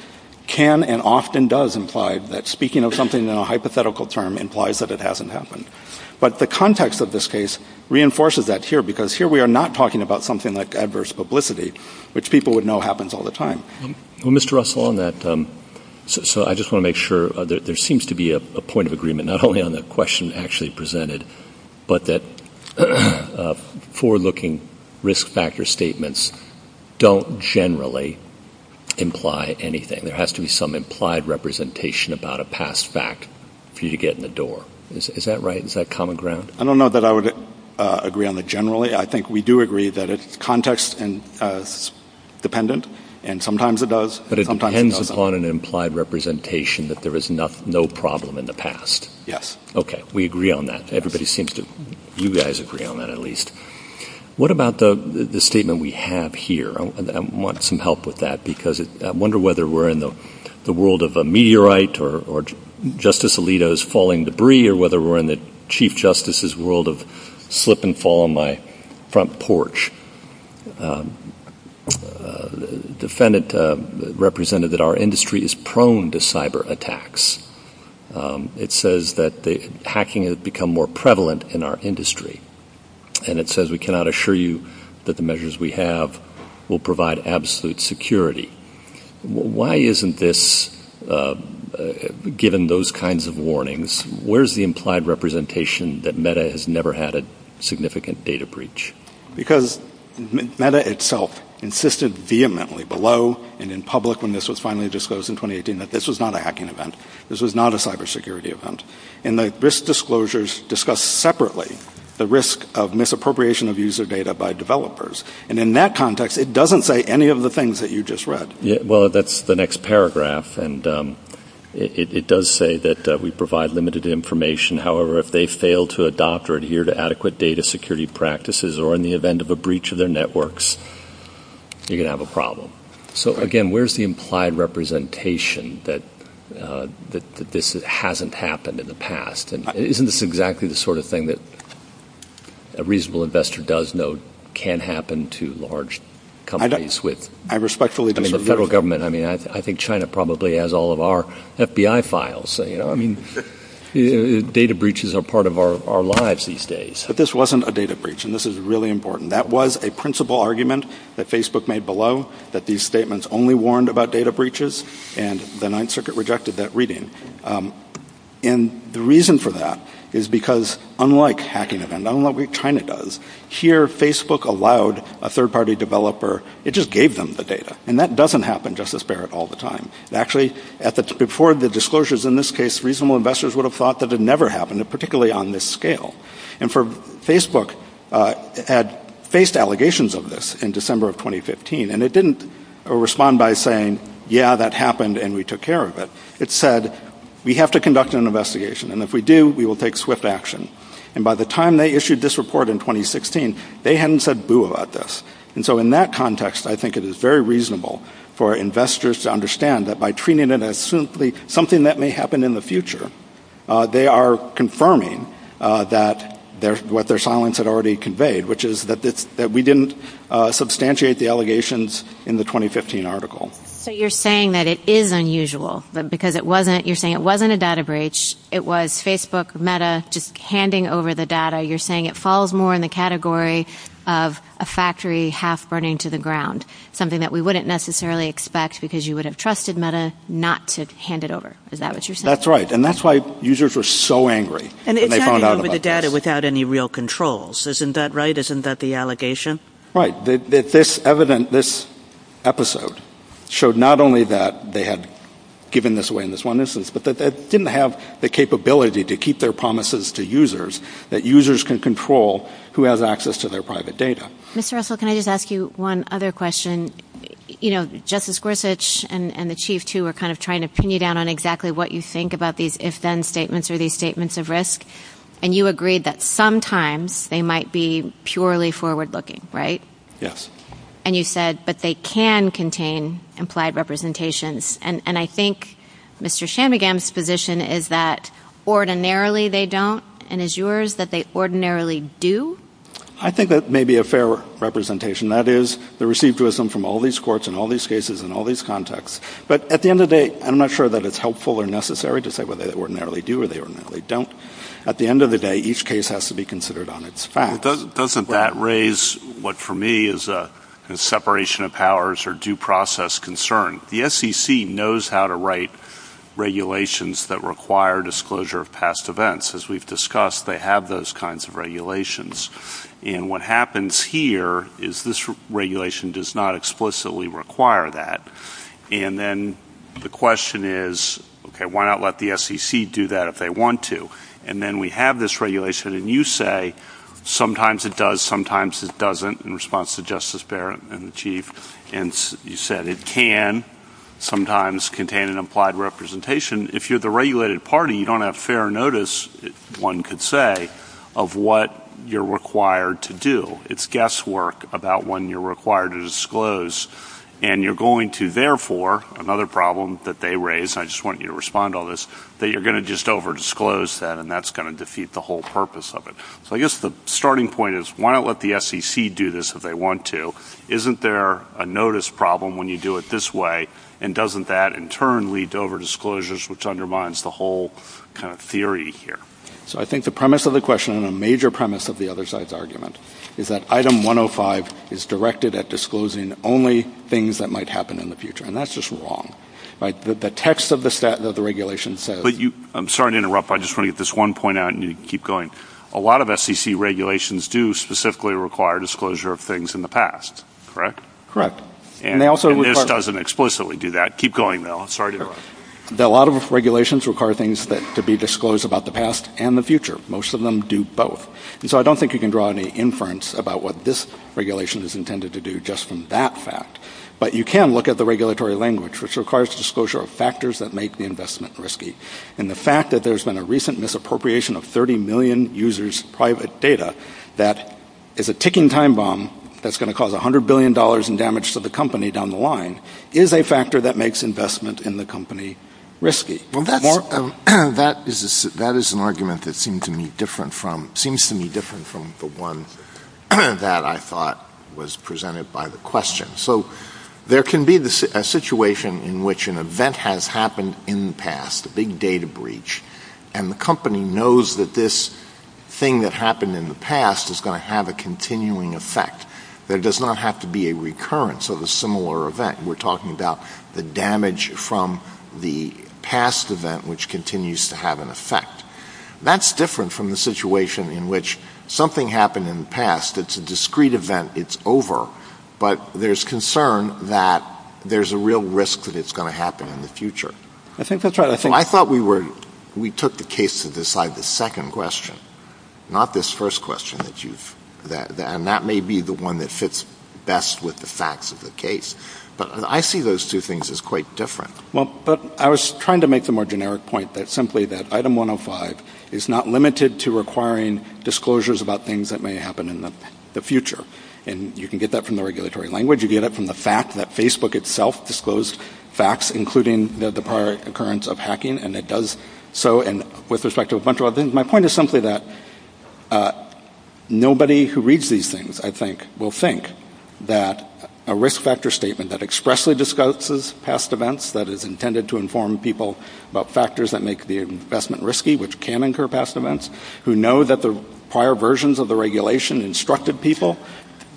can and often does imply that speaking of something in a hypothetical term implies that it hasn't happened. But the context of this case reinforces that here because here we are not talking about something like adverse publicity, which people would know happens all the time. Well, Mr. Russell, on that, I just want to make sure there seems to be a point of agreement, not only on the question actually presented, but that four looking risk factor statements don't generally imply anything. There has to be some implied representation about a past fact for you to get in the door. Is that right? Is that common ground? I don't know that I would agree on the generally. I think we do agree that it's context dependent, and sometimes it does. But it depends upon an implied representation that there is no problem in the past. Yes. Okay. We agree on that. Everybody seems to – you guys agree on that at least. What about the statement we have here? I want some help with that because I wonder whether we're in the world of a meteorite or Justice Alito's falling debris or whether we're in the Chief Justice's world of slip and fall on my front porch. The defendant represented that our industry is prone to cyber attacks. It says that the hacking has become more prevalent in our industry, and it says we cannot assure you that the measures we have will provide absolute security. Why isn't this – given those kinds of warnings, where's the implied representation that META has never had a significant data breach? Because META itself insisted vehemently below and in public when this was finally disclosed in 2018 that this was not a hacking event. This was not a cybersecurity event. And the risk disclosures discuss separately the risk of misappropriation of user data by developers. And in that context, it doesn't say any of the things that you just read. Well, that's the next paragraph, and it does say that we provide limited information. However, if they fail to adopt or adhere to adequate data security practices or in the event of a breach of their networks, you're going to have a problem. So, again, where's the implied representation that this hasn't happened in the past? Isn't this exactly the sort of thing that a reasonable investor does know can happen to large companies? I respectfully disagree. I mean, the federal government – I mean, I think China probably has all of our FBI files. You know, I mean, data breaches are part of our lives these days. But this wasn't a data breach, and this is really important. That was a principal argument that Facebook made below, that these statements only warned about data breaches, and the Ninth Circuit rejected that reading. And the reason for that is because unlike hacking, and unlike what China does, here Facebook allowed a third-party developer – it just gave them the data. And that doesn't happen, Justice Barrett, all the time. Actually, before the disclosures in this case, reasonable investors would have thought that it never happened, particularly on this scale. And Facebook had faced allegations of this in December of 2015, and it didn't respond by saying, yeah, that happened and we took care of it. It said, we have to conduct an investigation, and if we do, we will take swift action. And by the time they issued this report in 2016, they hadn't said boo about this. And so in that context, I think it is very reasonable for investors to understand that by treating it as simply something that may happen in the future, they are confirming that – what their silence had already conveyed, which is that we didn't substantiate the allegations in the 2015 article. So you're saying that it is unusual, because it wasn't – you're saying it wasn't a data breach. It was Facebook, Meta, just handing over the data. You're saying it falls more in the category of a factory half-burning to the ground, something that we wouldn't necessarily expect because you would have trusted Meta not to hand it over. Is that what you're saying? That's right, and that's why users were so angry when they found out about this. And it's not handing over the data without any real controls. Isn't that right? Isn't that the allegation? Right, that this episode showed not only that they had given this away in this one instance, but that they didn't have the capability to keep their promises to users that users can control who has access to their private data. Mr. Russell, can I just ask you one other question? You know, Justice Gorsuch and the Chief, too, are kind of trying to pin you down on exactly what you think about these if-then statements or these statements of risk, and you agreed that sometimes they might be purely forward-looking, right? Yes. And you said, but they can contain implied representations, and I think Mr. Shanmugam's position is that ordinarily they don't, and is yours that they ordinarily do? I think that may be a fair representation. That is, the received wisdom from all these courts and all these cases and all these contexts. But at the end of the day, I'm not sure that it's helpful or necessary to say whether they ordinarily do or they ordinarily don't. At the end of the day, each case has to be considered on its own. Doesn't that raise what for me is a separation of powers or due process concern? The SEC knows how to write regulations that require disclosure of past events. As we've discussed, they have those kinds of regulations. And what happens here is this regulation does not explicitly require that. And then the question is, okay, why not let the SEC do that if they want to? And then we have this regulation, and you say sometimes it does, sometimes it doesn't, in response to Justice Barrett and the Chief. And you said it can sometimes contain an implied representation. If you're the regulated party, you don't have fair notice, one could say, of what you're required to do. It's guesswork about when you're required to disclose. And you're going to, therefore, another problem that they raise, and I just want you to respond to all this, that you're going to just overdisclose that, and that's going to defeat the whole purpose of it. So I guess the starting point is, why not let the SEC do this if they want to? Isn't there a notice problem when you do it this way? And doesn't that, in turn, lead to overdisclosures, which undermines the whole kind of theory here? So I think the premise of the question, and a major premise of the other side's argument, is that Item 105 is directed at disclosing only things that might happen in the future. And that's just wrong. The text of the regulation says – I'm sorry to interrupt, but I just want to get this one point out, and you can keep going. A lot of SEC regulations do specifically require disclosure of things in the past, correct? And this doesn't explicitly do that. Keep going, Bill. Sorry to interrupt. A lot of regulations require things to be disclosed about the past and the future. Most of them do both. And so I don't think you can draw any inference about what this regulation is intended to do just from that fact. But you can look at the regulatory language, which requires disclosure of factors that make the investment risky. And the fact that there's been a recent misappropriation of 30 million users' private data, that is a ticking time bomb that's going to cause $100 billion in damage to the company down the line, is a factor that makes investment in the company risky. That is an argument that seems to me different from the one that I thought was presented by the question. So there can be a situation in which an event has happened in the past. A big data breach. And the company knows that this thing that happened in the past is going to have a continuing effect. There does not have to be a recurrence of a similar event. We're talking about the damage from the past event, which continues to have an effect. That's different from the situation in which something happened in the past. It's a discrete event. It's over. But there's concern that there's a real risk that it's going to happen in the future. I think that's right. I thought we took the case to decide the second question, not this first question. And that may be the one that fits best with the facts of the case. But I see those two things as quite different. Well, I was trying to make the more generic point simply that Item 105 is not limited to requiring disclosures about things that may happen in the future. And you can get that from the regulatory language. You get it from the fact that Facebook itself disclosed facts, including the prior occurrence of hacking. And it does so with respect to a bunch of other things. My point is simply that nobody who reads these things, I think, will think that a risk factor statement that expressly discloses past events, that is intended to inform people about factors that make the investment risky, which can incur past events, who know that the prior versions of the regulation instructed people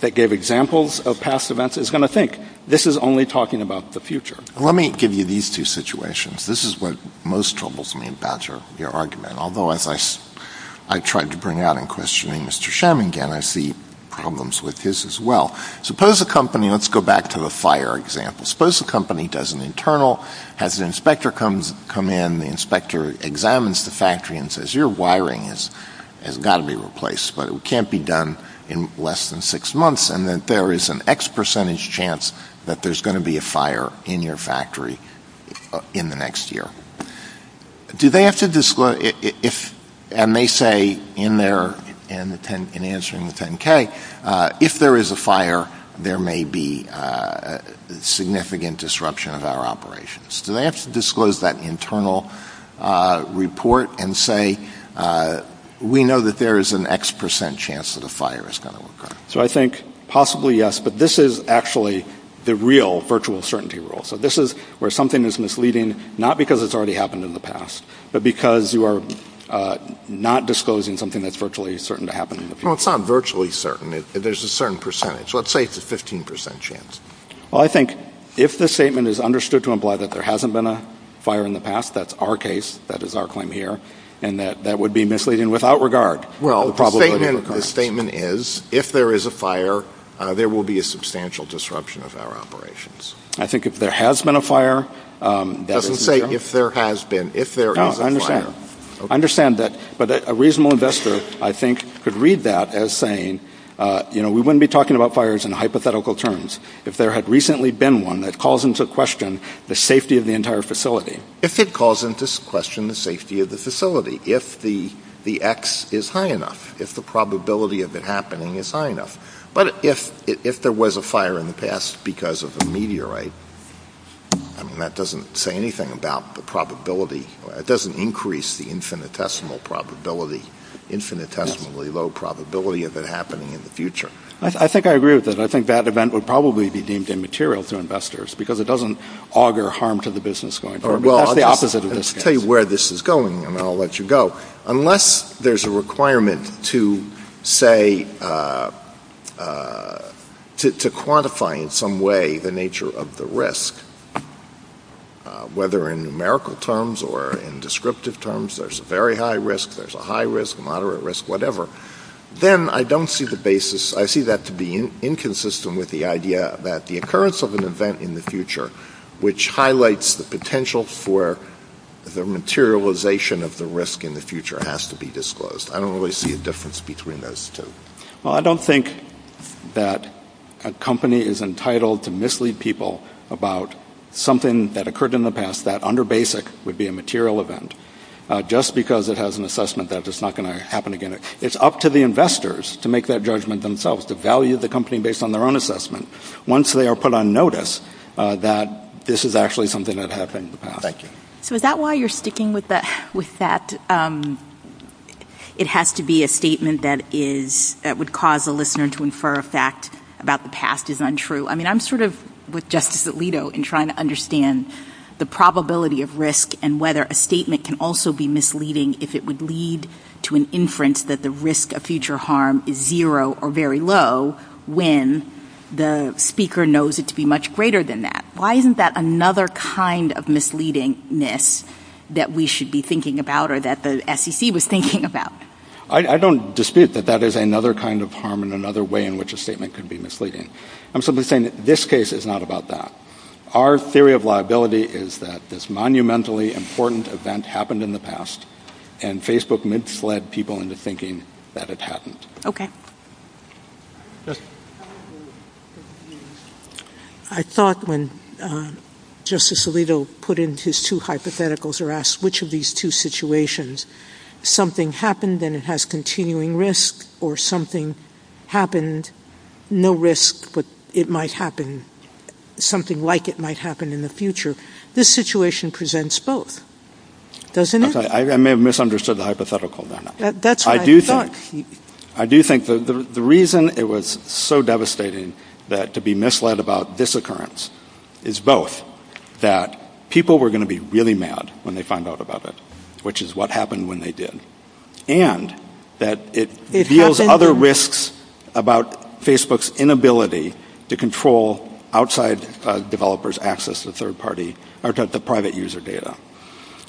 that gave examples of past events, is going to think, this is only talking about the future. Let me give you these two situations. This is what most troubles me about your argument. Although I tried to bring it out in questioning Mr. Sherman again, I see problems with this as well. Let's go back to the fire example. Suppose a company does an internal, has an inspector come in, the inspector examines the factory and says, your wiring has got to be replaced. But it can't be done in less than six months. And then there is an X percentage chance that there's going to be a fire in your factory in the next year. Do they have to disclose, and they say in answering the 10-K, if there is a fire, there may be significant disruption of our operations. Do they have to disclose that internal report and say, we know that there is an X percent chance that a fire is going to occur? So I think possibly yes, but this is actually the real virtual certainty rule. So this is where something is misleading, not because it's already happened in the past, but because you are not disclosing something that's virtually certain to happen in the future. Well, it's not virtually certain. There's a certain percentage. Let's say it's a 15 percent chance. Well, I think if the statement is understood to imply that there hasn't been a fire in the past, that's our case, that is our claim here, and that that would be misleading without regard. Well, the statement is, if there is a fire, there will be a substantial disruption of our operations. I think if there has been a fire. It doesn't say if there has been. If there is a fire. No, I understand. I understand that. But a reasonable investor, I think, could read that as saying, you know, we wouldn't be talking about fires in hypothetical terms if there had recently been one that calls into question the safety of the entire facility. If it calls into question the safety of the facility, if the X is high enough, if the probability of it happening is high enough. But if there was a fire in the past because of a meteorite, that doesn't say anything about the probability. It doesn't increase the infinitesimal probability, infinitesimally low probability of it happening in the future. I think I agree with that. I think that event would probably be deemed immaterial to investors because it doesn't auger harm to the business going forward. Well, I'll just tell you where this is going and I'll let you go. Unless there's a requirement to quantify in some way the nature of the risk, whether in numerical terms or in descriptive terms, there's a very high risk, there's a high risk, moderate risk, whatever, then I don't see the basis. I see that to be inconsistent with the idea that the occurrence of an event in the future, which highlights the potential for the materialization of the risk in the future, has to be disclosed. I don't really see a difference between those two. Well, I don't think that a company is entitled to mislead people about something that occurred in the past, that under basic would be a material event. Just because it has an assessment, that's just not going to happen again. It's up to the investors to make that judgment themselves, to value the company based on their own assessment. Once they are put on notice that this is actually something that happened. Thank you. So is that why you're sticking with that? It has to be a statement that would cause a listener to infer a fact about the past is untrue. I mean, I'm sort of with Justice Alito in trying to understand the probability of risk and whether a statement can also be misleading if it would lead to an inference that the risk of future harm is zero or very low when the speaker knows it to be much greater than that. Why isn't that another kind of misleadingness that we should be thinking about or that the SEC was thinking about? I don't dispute that that is another kind of harm and another way in which a statement could be misleading. I'm simply saying that this case is not about that. Our theory of liability is that this monumentally important event happened in the past and Facebook mid-fled people into thinking that it happened. I thought when Justice Alito put in his two hypotheticals or asked which of these two situations, something happened and it has continuing risk or something happened, no risk, but it might happen, something like it might happen in the future. This situation presents both, doesn't it? I may have misunderstood the hypothetical. That's what I thought. I do think the reason it was so devastating that to be misled about this occurrence is both that people were going to be really mad when they found out about it, which is what happened when they did, and that it reveals other risks about Facebook's inability to control outside developers' access to third-party or to private user data.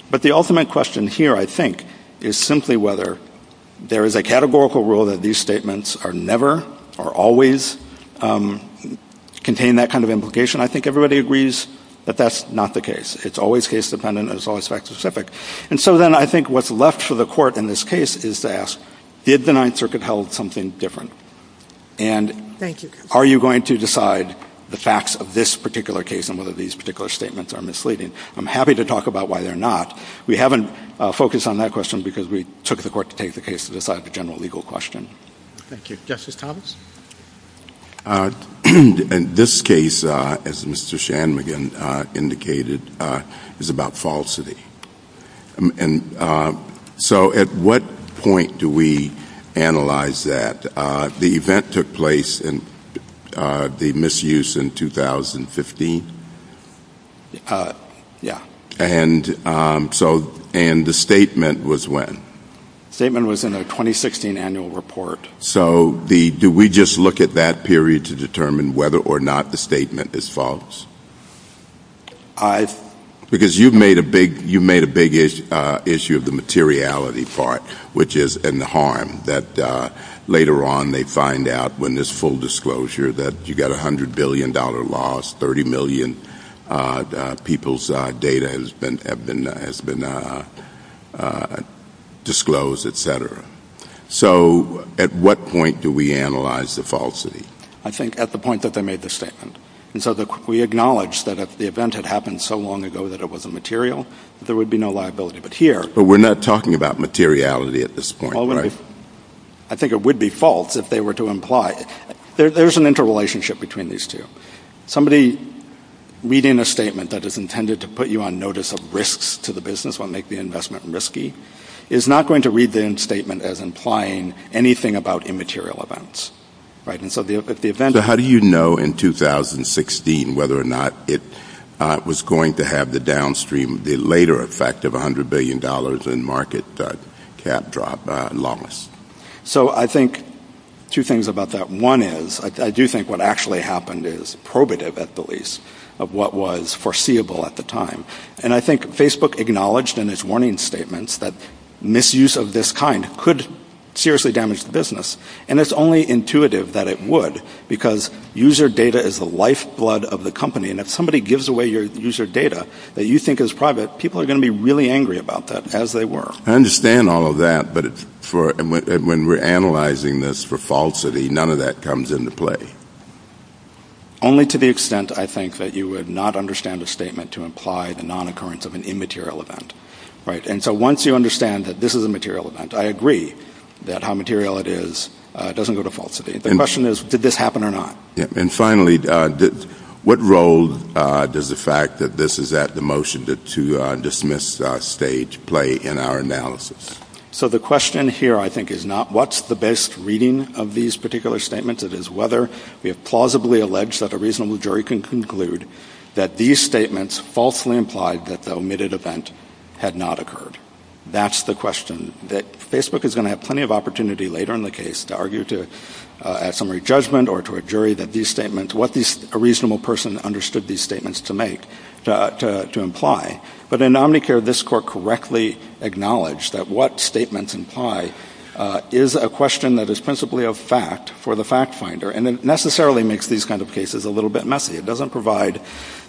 But the ultimate question here, I think, is simply whether there is a categorical rule that these statements are never or always contain that kind of implication. I think everybody agrees that that's not the case. It's always case-dependent and it's always fact-specific. And so then I think what's left for the Court in this case is to ask, did the Ninth Circuit hold something different? And are you going to decide the facts of this particular case and whether these particular statements are misleading? I'm happy to talk about why they're not. We haven't focused on that question because we took the Court to take the case to decide the general legal question. Thank you. Justice Thomas? In this case, as Mr. Shanmugam indicated, it's about falsity. And so at what point do we analyze that? The event took place in the misuse in 2015? Yeah. And the statement was when? The statement was in the 2016 annual report. So do we just look at that period to determine whether or not the statement is false? Because you made a big issue of the materiality part, which is in the harm, that later on they find out when there's full disclosure that you got a $100 billion loss, 30 million people's data has been disclosed, et cetera. So at what point do we analyze the falsity? I think at the point that they made the statement. And so we acknowledge that if the event had happened so long ago that it wasn't material, there would be no liability. But we're not talking about materiality at this point, right? I think it would be false if they were to imply it. There's an interrelationship between these two. Somebody reading a statement that is intended to put you on notice of risks to the business, is not going to read the statement as implying anything about immaterial events. So how do you know in 2016 whether or not it was going to have the downstream, the later effect of $100 billion in market cap loss? So I think two things about that. One is I do think what actually happened is probative at the least of what was foreseeable at the time. And I think Facebook acknowledged in its warning statements that misuse of this kind could seriously damage the business. And it's only intuitive that it would because user data is the lifeblood of the company. And if somebody gives away your user data that you think is private, people are going to be really angry about that, as they were. I understand all of that, but when we're analyzing this for falsity, none of that comes into play. Only to the extent, I think, that you would not understand a statement to imply the non-occurrence of an immaterial event. And so once you understand that this is a material event, I agree that how material it is doesn't go to falsity. The question is, did this happen or not? And finally, what role does the fact that this is at the motion to dismiss stage play in our analysis? So the question here, I think, is not what's the best reading of these particular statements. It is whether we have plausibly alleged that a reasonable jury can conclude that these statements falsely implied that the omitted event had not occurred. That's the question that Facebook is going to have plenty of opportunity later in the case to argue at summary judgment or to a jury that these statements, what a reasonable person understood these statements to imply. But in Omnicare, this Court correctly acknowledged that what statements imply is a question that is principally a fact for the fact finder, and it necessarily makes these kinds of cases a little bit messy. It doesn't provide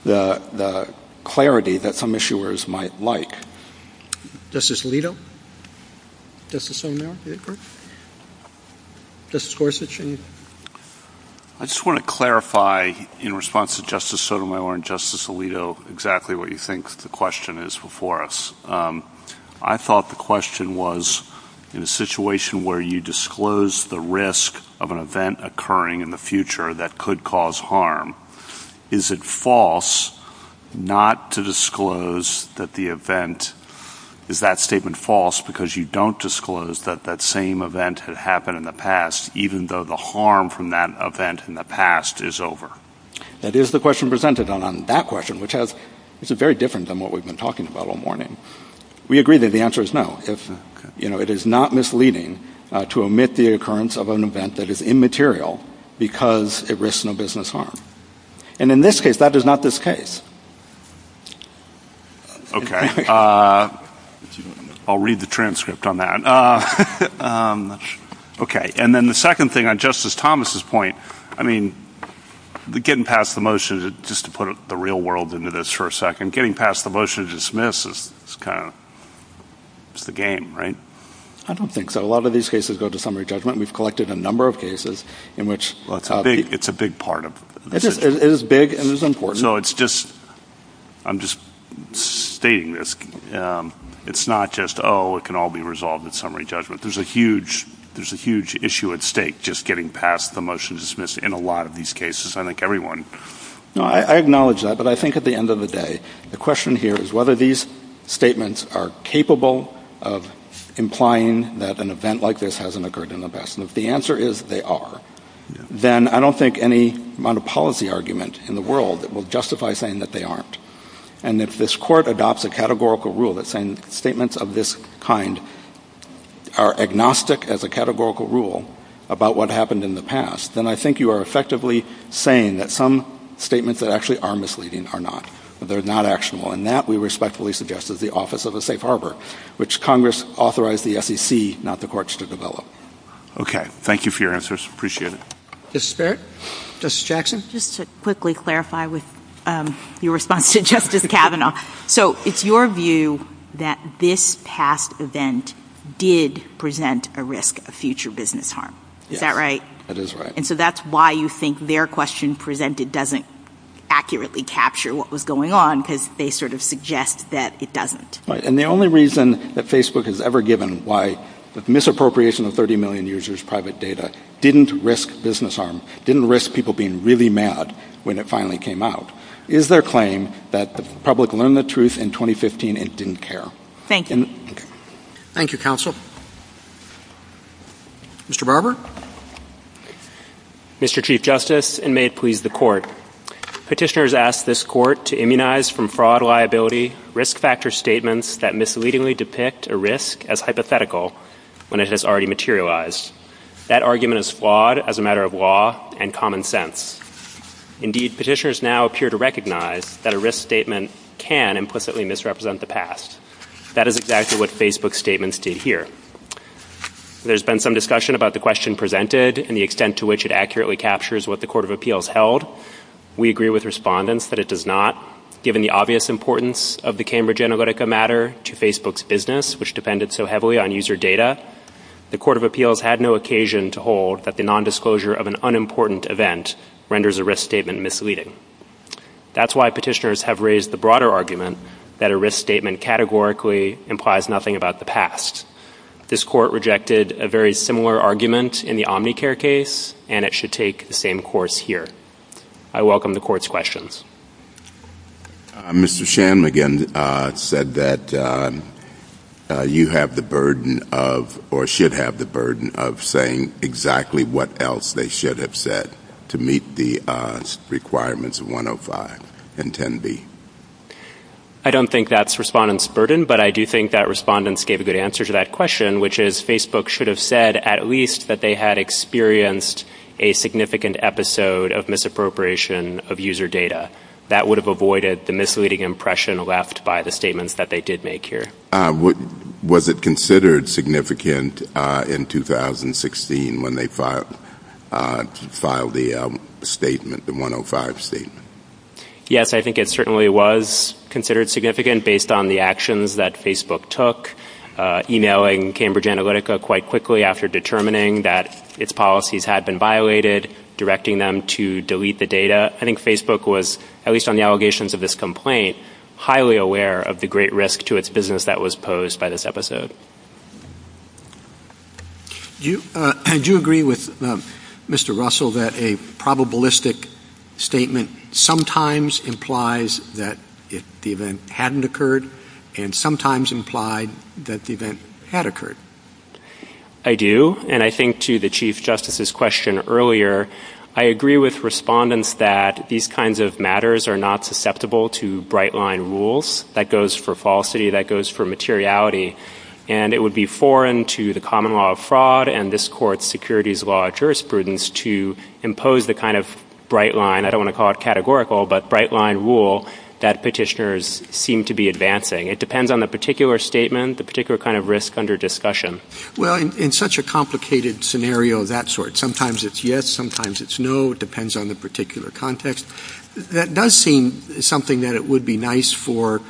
the clarity that some issuers might like. Justice Alito? Justice O'Meara? Justice Gorsuch? I just want to clarify, in response to Justice Sotomayor and Justice Alito, exactly what you think the question is before us. I thought the question was, in a situation where you disclose the risk of an event occurring in the future that could cause harm, is it false not to disclose that the event, is that statement false because you don't disclose that that same event had happened in the past, even though the harm from that event in the past is over? That is the question presented on that question, which is very different than what we've been talking about all morning. We agree that the answer is no. It is not misleading to omit the occurrence of an event that is immaterial because it risks no business harm. And in this case, that is not this case. Okay. I'll read the transcript on that. Okay. And then the second thing, on Justice Thomas's point, I mean, getting past the motion, just to put the real world into this for a second, getting past the motion to dismiss is kind of, it's the game, right? I don't think so. A lot of these cases go to summary judgment. We've collected a number of cases in which- It's a big part of- It is big and it's important. I'm just stating this. It's not just, oh, it can all be resolved in summary judgment. There's a huge issue at stake just getting past the motion to dismiss in a lot of these cases. I think everyone- I acknowledge that, but I think at the end of the day, the question here is whether these statements are capable of implying that an event like this hasn't occurred in the past. And if the answer is they are, then I don't think any amount of policy argument in the world will justify saying that they aren't. And if this court adopts a categorical rule that saying statements of this kind are agnostic as a categorical rule about what happened in the past, then I think you are effectively saying that some statements that actually are misleading are not, that they're not actionable. And that, we respectfully suggest, is the office of the safe harbor, which Congress authorized the SEC, not the courts, to develop. Okay. Thank you for your answers. Appreciate it. Justice Barrett? Justice Jackson? Just to quickly clarify with your response to Justice Kavanaugh. So, it's your view that this past event did present a risk of future business harm. Is that right? That is right. And so that's why you think their question presented doesn't accurately capture what was going on, because they sort of suggest that it doesn't. And the only reason that Facebook has ever given why the misappropriation of 30 million users' private data didn't risk business harm, didn't risk people being really mad when it finally came out, is their claim that the public learned the truth in 2015 and didn't care. Thank you. Thank you, counsel. Mr. Barber? Mr. Chief Justice, and may it please the court, Petitioners asked this court to immunize from fraud liability risk factor statements that misleadingly depict a risk as hypothetical when it has already materialized. That argument is flawed as a matter of law and common sense. Indeed, petitioners now appear to recognize that a risk statement can implicitly misrepresent the past. That is exactly what Facebook's statements did here. There's been some discussion about the question presented and the extent to which it accurately captures what the Court of Appeals held. We agree with respondents that it does not. Given the obvious importance of the Cambridge Analytica matter to Facebook's business, which depended so heavily on user data, the Court of Appeals had no occasion to hold that the nondisclosure of an unimportant event renders a risk statement misleading. That's why petitioners have raised the broader argument that a risk statement categorically implies nothing about the past. This court rejected a very similar argument in the Omnicare case, and it should take the same course here. I welcome the Court's questions. Mr. Shanmugam said that you have the burden of, or should have the burden of, saying exactly what else they should have said to meet the requirements of 105 and 10B. I don't think that's respondents' burden, but I do think that respondents gave a good answer to that question, which is Facebook should have said at least that they had experienced a significant episode of misappropriation of user data. That would have avoided the misleading impression left by the statements that they did make here. Was it considered significant in 2016 when they filed the statement, the 105 statement? Yes, I think it certainly was considered significant based on the actions that Facebook took. Emailing Cambridge Analytica quite quickly after determining that its policies had been violated, directing them to delete the data. I think Facebook was, at least on the allegations of this complaint, highly aware of the great risk to its business that was posed by this episode. I do agree with Mr. Russell that a probabilistic statement sometimes implies that the event hadn't occurred and sometimes implied that the event had occurred. I do, and I think to the Chief Justice's question earlier, I agree with respondents that these kinds of matters are not susceptible to bright-line rules. That goes for falsity, that goes for materiality, and it would be foreign to the common law of fraud and this Court's securities law jurisprudence to impose the kind of bright-line, I don't want to call it categorical, but bright-line rule that petitioners seem to be advancing. It depends on the particular statement, the particular kind of risk under discussion. Well, in such a complicated scenario of that sort, sometimes it's yes, sometimes it's no, it depends on the particular context, that does seem something that it would be nice for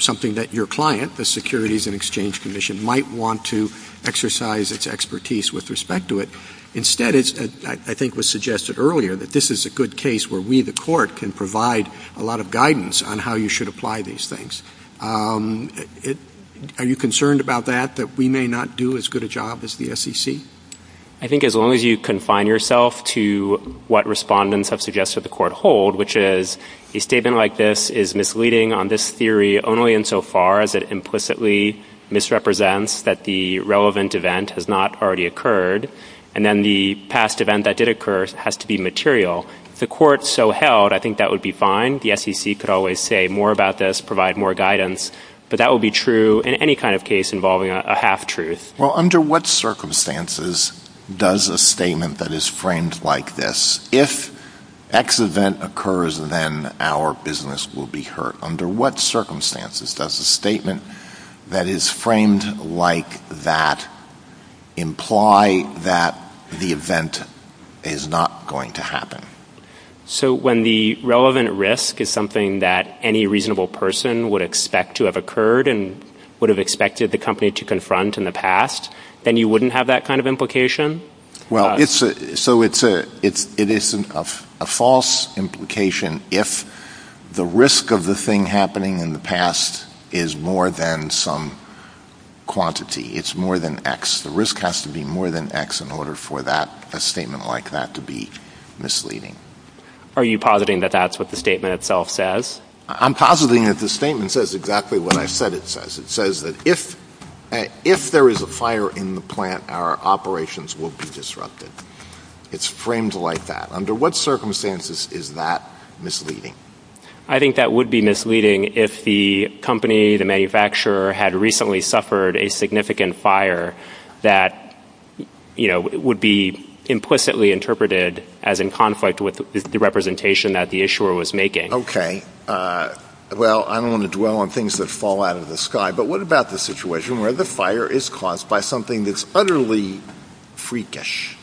something that your client, the Securities and Exchange Commission, might want to exercise its expertise with respect to it. Instead, I think it was suggested earlier that this is a good case where we, the Court, can provide a lot of guidance on how you should apply these things. Are you concerned about that, that we may not do as good a job as the SEC? I think as long as you confine yourself to what respondents have suggested the Court hold, which is a statement like this is misleading on this theory only insofar as it implicitly misrepresents that the relevant event has not already occurred, and then the past event that did occur has to be material. If the Court so held, I think that would be fine. The SEC could always say more about this, provide more guidance, but that would be true in any kind of case involving a half-truth. Well, under what circumstances does a statement that is framed like this, if X event occurs, then our business will be hurt? Under what circumstances does a statement that is framed like that imply that the event is not going to happen? So when the relevant risk is something that any reasonable person would expect to have occurred and would have expected the company to confront in the past, then you wouldn't have that kind of implication? Well, it isn't a false implication if the risk of the thing happening in the past is more than some quantity. It's more than X. The risk has to be more than X in order for a statement like that to be misleading. Are you positing that that's what the statement itself says? I'm positing that the statement says exactly what I said it says. It says that if there is a fire in the plant, our operations will be disrupted. It's framed like that. Under what circumstances is that misleading? I think that would be misleading if the company, the manufacturer, had recently suffered a significant fire that would be implicitly interpreted as in conflict with the representation that the issuer was making. Okay. Well, I don't want to dwell on things that fall out of the sky, but what about the situation where the fire is caused by something that's utterly freakish?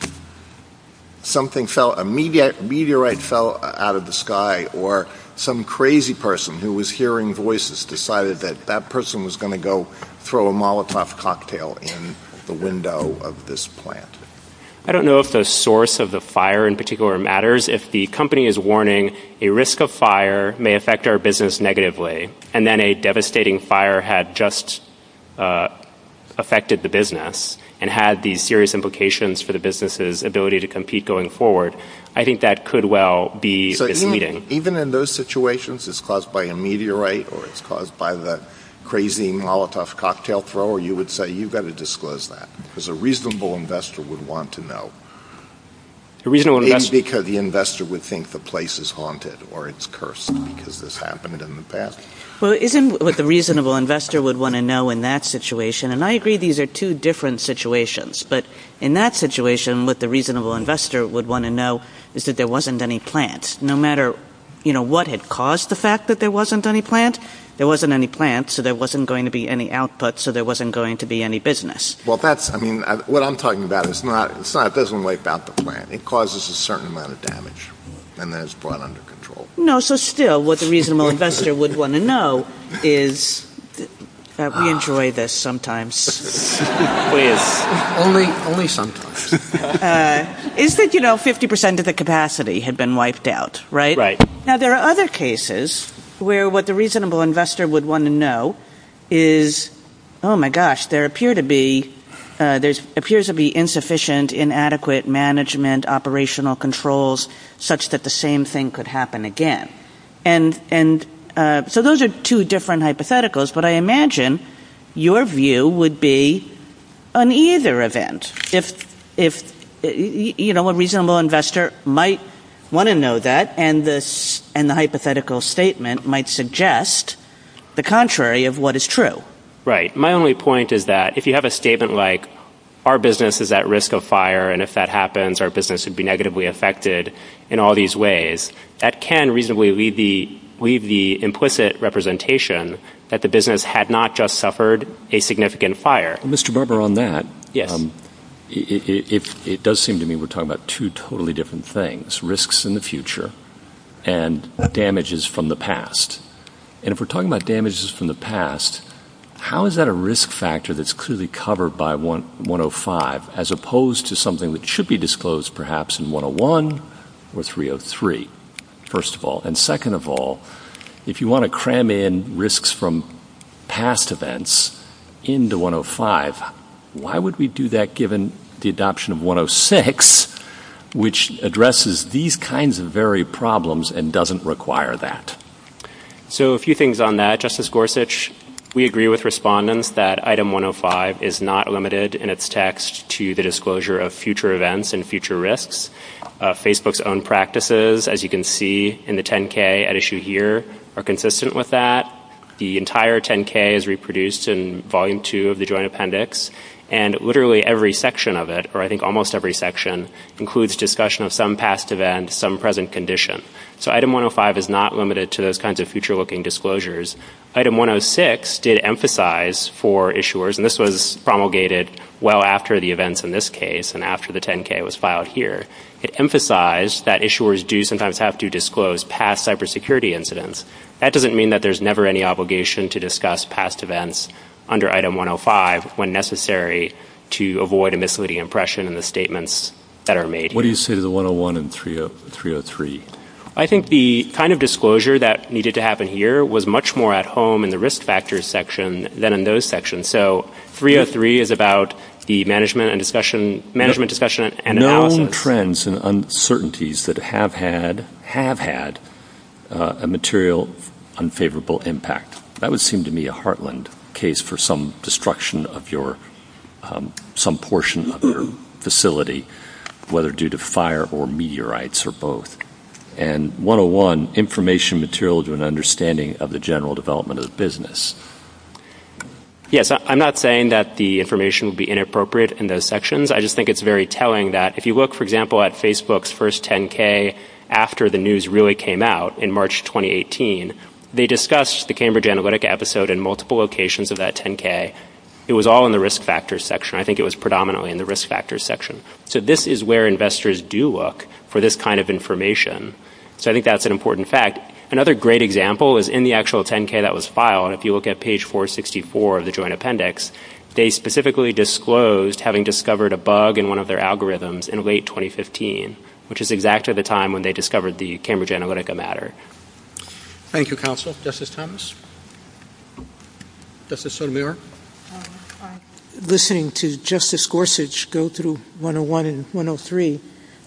A meteorite fell out of the sky, or some crazy person who was hearing voices decided that that person was going to go throw a Molotov cocktail in the window of this plant? I don't know if the source of the fire in particular matters. If the company is warning a risk of fire may affect our business negatively, and then a devastating fire had just affected the business and had these serious implications for the business's ability to compete going forward, I think that could well be misleading. Even in those situations, it's caused by a meteorite or it's caused by that crazy Molotov cocktail thrower, you would say you've got to disclose that because a reasonable investor would want to know. Maybe because the investor would think the place is haunted or it's cursed because this happened in the past. Well, isn't what the reasonable investor would want to know in that situation, and I agree these are two different situations, but in that situation what the reasonable investor would want to know is that there wasn't any plant. No matter what had caused the fact that there wasn't any plant, there wasn't any plant, so there wasn't going to be any output, so there wasn't going to be any business. What I'm talking about is it doesn't wipe out the plant. It causes a certain amount of damage and then it's brought under control. No, so still what the reasonable investor would want to know is that we enjoy this sometimes. Only sometimes. It's that 50% of the capacity had been wiped out, right? Right. Now, there are other cases where what the reasonable investor would want to know is, oh my gosh, there appears to be insufficient, inadequate management operational controls such that the same thing could happen again. So those are two different hypotheticals, but I imagine your view would be on either event. A reasonable investor might want to know that, and the hypothetical statement might suggest the contrary of what is true. Right. My only point is that if you have a statement like our business is at risk of fire and if that happens our business would be negatively affected in all these ways, that can reasonably leave the implicit representation that the business had not just suffered a significant fire. Mr. Barber, on that, it does seem to me we're talking about two totally different things, risks in the future and damages from the past. And if we're talking about damages from the past, how is that a risk factor that's clearly covered by 105 as opposed to something that should be disclosed perhaps in 101 or 303, first of all? And second of all, if you want to cram in risks from past events into 105, why would we do that given the adoption of 106, which addresses these kinds of very problems and doesn't require that? So a few things on that, Justice Gorsuch. We agree with respondents that Item 105 is not limited in its text to the disclosure of future events and future risks. Facebook's own practices, as you can see in the 10-K at issue here, are consistent with that. The entire 10-K is reproduced in Volume 2 of the Joint Appendix, and literally every section of it, or I think almost every section, includes discussion of some past events, some present condition. So Item 105 is not limited to those kinds of future-looking disclosures. Item 106 did emphasize for issuers, and this was promulgated well after the events in this case and after the 10-K was filed here, it emphasized that issuers do sometimes have to disclose past cybersecurity incidents. That doesn't mean that there's never any obligation to discuss past events under Item 105 when necessary to avoid a misleading impression in the statements that are made. What do you say to the 101 and 303? I think the kind of disclosure that needed to happen here was much more at home in the risk factors section than in those sections. So 303 is about the management discussion and analysis. Known trends and uncertainties that have had a material unfavorable impact. That would seem to me a heartland case for some destruction of some portion of your facility, whether due to fire or meteorites or both. And 101, information material to an understanding of the general development of the business. Yes, I'm not saying that the information would be inappropriate in those sections. I just think it's very telling that if you look, for example, at Facebook's first 10-K after the news really came out in March 2018, they discussed the Cambridge Analytica episode in multiple locations of that 10-K. It was all in the risk factors section. I think it was predominantly in the risk factors section. So this is where investors do look for this kind of information. So I think that's an important fact. Another great example is in the actual 10-K that was filed. If you look at page 464 of the joint appendix, they specifically disclosed having discovered a bug in one of their algorithms in late 2015, which is exactly the time when they discovered the Cambridge Analytica matter. Thank you, Counsel. Justice Thomas? Justice Sotomayor? I'm listening to Justice Gorsuch go through 101 and 103,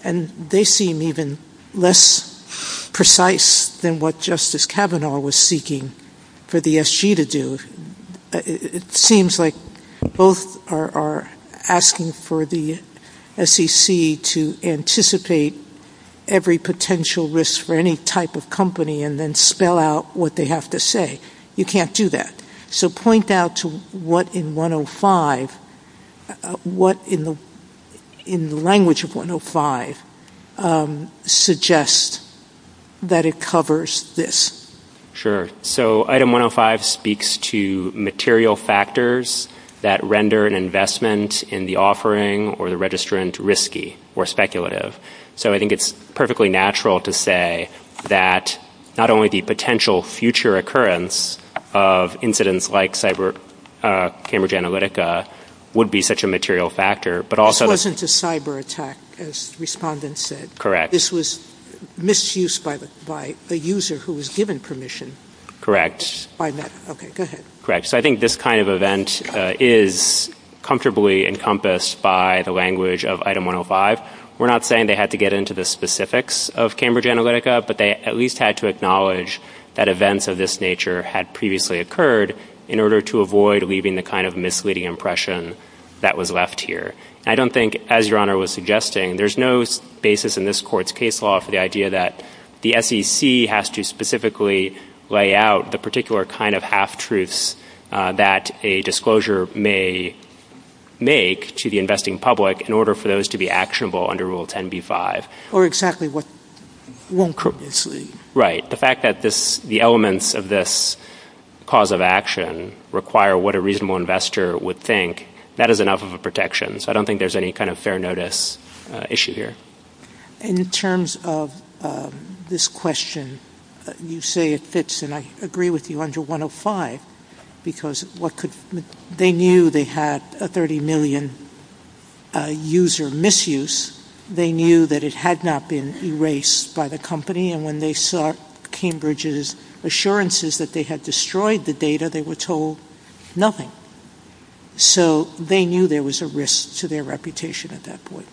and they seem even less precise than what Justice Kavanaugh was seeking for the SG to do. It seems like both are asking for the SEC to anticipate every potential risk for any type of company and then spell out what they have to say. You can't do that. So point out to what in 105, what in the language of 105 suggests that it covers this. Sure. So item 105 speaks to material factors that render an investment in the offering or the registrant risky or speculative. So I think it's perfectly natural to say that not only the potential future occurrence of incidents like Cambridge Analytica would be such a material factor, but also- This wasn't a cyber attack, as respondents said. Correct. This was misuse by the user who was given permission. Correct. Okay, go ahead. Correct. So I think this kind of event is comfortably encompassed by the language of item 105. We're not saying they had to get into the specifics of Cambridge Analytica, but they at least had to acknowledge that events of this nature had previously occurred in order to avoid leaving the kind of misleading impression that was left here. I don't think, as Your Honor was suggesting, there's no basis in this Court's case law for the idea that the SEC has to specifically lay out the particular kind of half-truths that a disclosure may make to the investing public in order for those to be actionable under Rule 10b-5. Or exactly what Wong previously- Right. The fact that the elements of this cause of action require what a reasonable investor would think, that is enough of a protection. So I don't think there's any kind of fair notice issue here. In terms of this question, you say it fits, and I agree with you under 105, because they knew they had a 30 million user misuse. They knew that it had not been erased by the company, and when they sought Cambridge's assurances that they had destroyed the data, they were told nothing. So they knew there was a risk to their reputation at that point.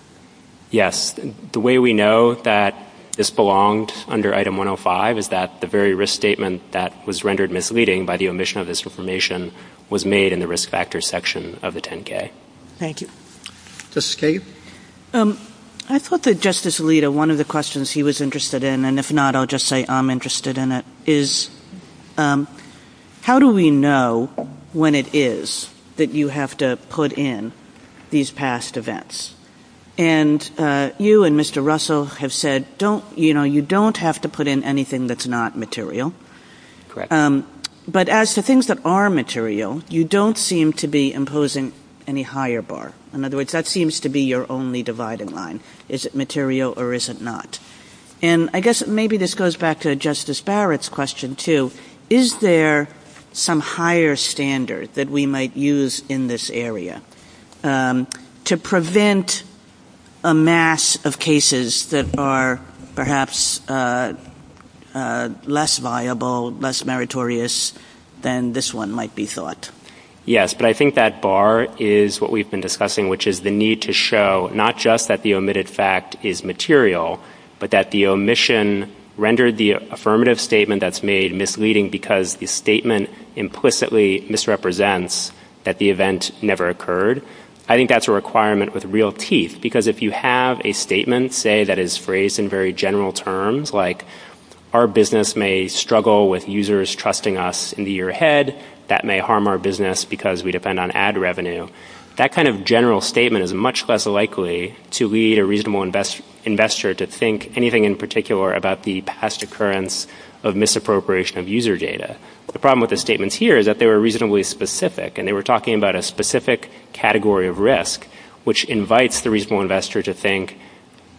Yes. The way we know that this belonged under item 105 is that the very risk statement that was rendered misleading by the omission of this information was made in the risk factor section of the 10-K. Thank you. Justice Kagan? I thought that Justice Alito, one of the questions he was interested in, and if not I'll just say I'm interested in it, is how do we know when it is that you have to put in these past events? And you and Mr. Russell have said you don't have to put in anything that's not material. Correct. But as to things that are material, you don't seem to be imposing any higher bar. In other words, that seems to be your only dividing line. Is it material or is it not? And I guess maybe this goes back to Justice Barrett's question too. Is there some higher standard that we might use in this area to prevent a mass of cases that are perhaps less viable, less meritorious than this one might be thought? Yes, but I think that bar is what we've been discussing, which is the need to show not just that the omitted fact is material, but that the omission rendered the affirmative statement that's made misleading because the statement implicitly misrepresents that the event never occurred. I think that's a requirement with real teeth, because if you have a statement, say, that is phrased in very general terms, like our business may struggle with users trusting us in the year ahead, that may harm our business because we depend on ad revenue, that kind of general statement is much less likely to lead a reasonable investor to think anything in particular about the past occurrence of misappropriation of user data. The problem with the statements here is that they were reasonably specific, and they were talking about a specific category of risk, which invites the reasonable investor to think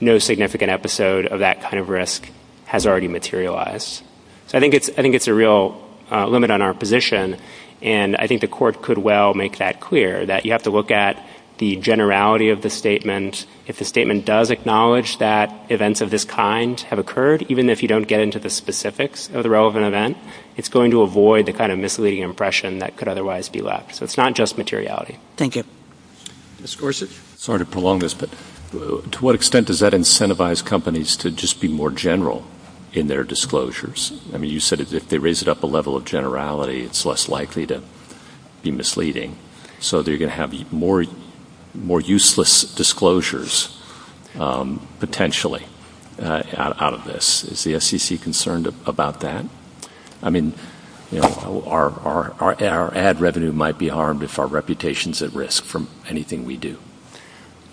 no significant episode of that kind of risk has already materialized. So I think it's a real limit on our position, and I think the court could well make that clear, that you have to look at the generality of the statement. If the statement does acknowledge that events of this kind have occurred, even if you don't get into the specifics of the relevant event, it's going to avoid the kind of misleading impression that could otherwise be left. So it's not just materiality. Thank you. Mr. Gorsuch, sorry to prolong this, but to what extent does that incentivize companies to just be more general in their disclosures? I mean, you said if they raise it up a level of generality, it's less likely to be misleading, so they're going to have more useless disclosures potentially out of this. Is the FCC concerned about that? I mean, our ad revenue might be harmed if our reputation is at risk from anything we do.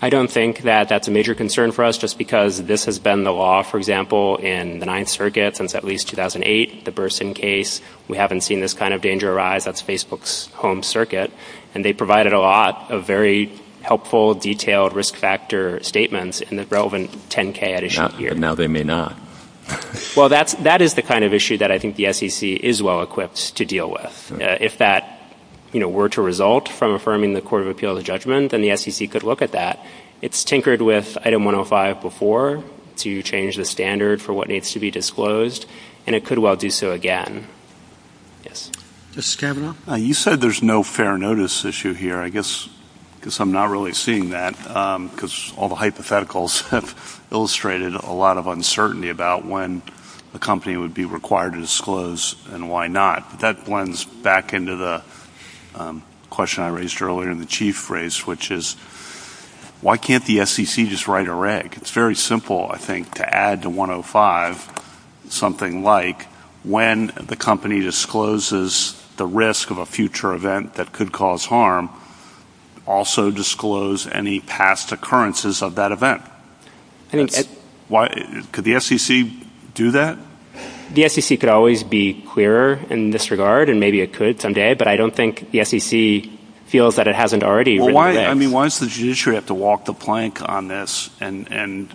I don't think that that's a major concern for us, just because this has been the law, for example, in the Ninth Circuit since at least 2008, the Burson case. We haven't seen this kind of danger arise. That's Facebook's home circuit, and they provided a lot of very helpful, detailed risk factor statements in the relevant 10-K edition here. Now they may not. Well, that is the kind of issue that I think the FCC is well equipped to deal with. If that were to result from affirming the Court of Appeals of Judgment, then the FCC could look at that. It's tinkered with Item 105 before to change the standard for what needs to be disclosed, and it could well do so again. You said there's no fair notice issue here, I guess, because I'm not really seeing that, because all the hypotheticals have illustrated a lot of uncertainty about when a company would be required to disclose and why not. That blends back into the question I raised earlier in the chief race, which is why can't the FCC just write a reg? It's very simple, I think, to add to 105 something like when the company discloses the risk of a future event that could cause harm, also disclose any past occurrences of that event. Could the FCC do that? The FCC could always be clearer in this regard, and maybe it could someday, but I don't think the FCC feels that it hasn't already written a reg. Why does the judiciary have to walk the plank on this and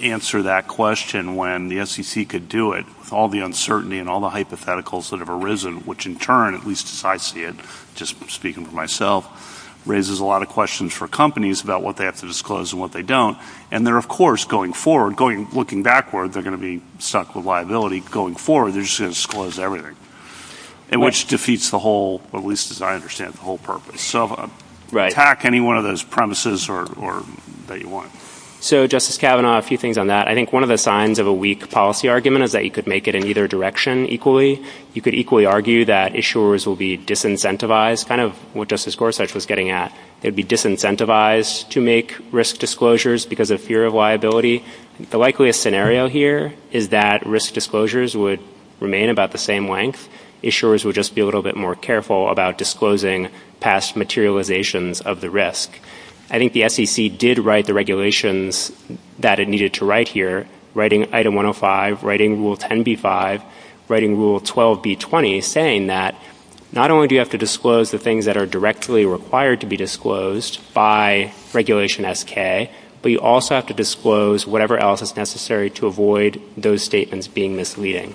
answer that question when the FCC could do it with all the uncertainty and all the hypotheticals that have arisen, which in turn, at least as I see it, just speaking for myself, raises a lot of questions for companies about what they have to disclose and what they don't. And they're, of course, going forward. Looking backward, they're going to be sucked with liability. Going forward, they're just going to disclose everything, which defeats the whole, at least as I understand it, the whole purpose. So attack any one of those premises that you want. So, Justice Kavanaugh, a few things on that. I think one of the signs of a weak policy argument is that you could make it in either direction equally. You could equally argue that issuers will be disincentivized, kind of what Justice Gorsuch was getting at. They'd be disincentivized to make risk disclosures because of fear of liability. The likeliest scenario here is that risk disclosures would remain about the same length. Issuers would just be a little bit more careful about disclosing past materializations of the risk. I think the FCC did write the regulations that it needed to write here, writing Item 105, writing Rule 10b-5, writing Rule 12b-20, saying that not only do you have to disclose the things that are directly required to be disclosed by Regulation SK, but you also have to disclose whatever else is necessary to avoid those statements being misleading.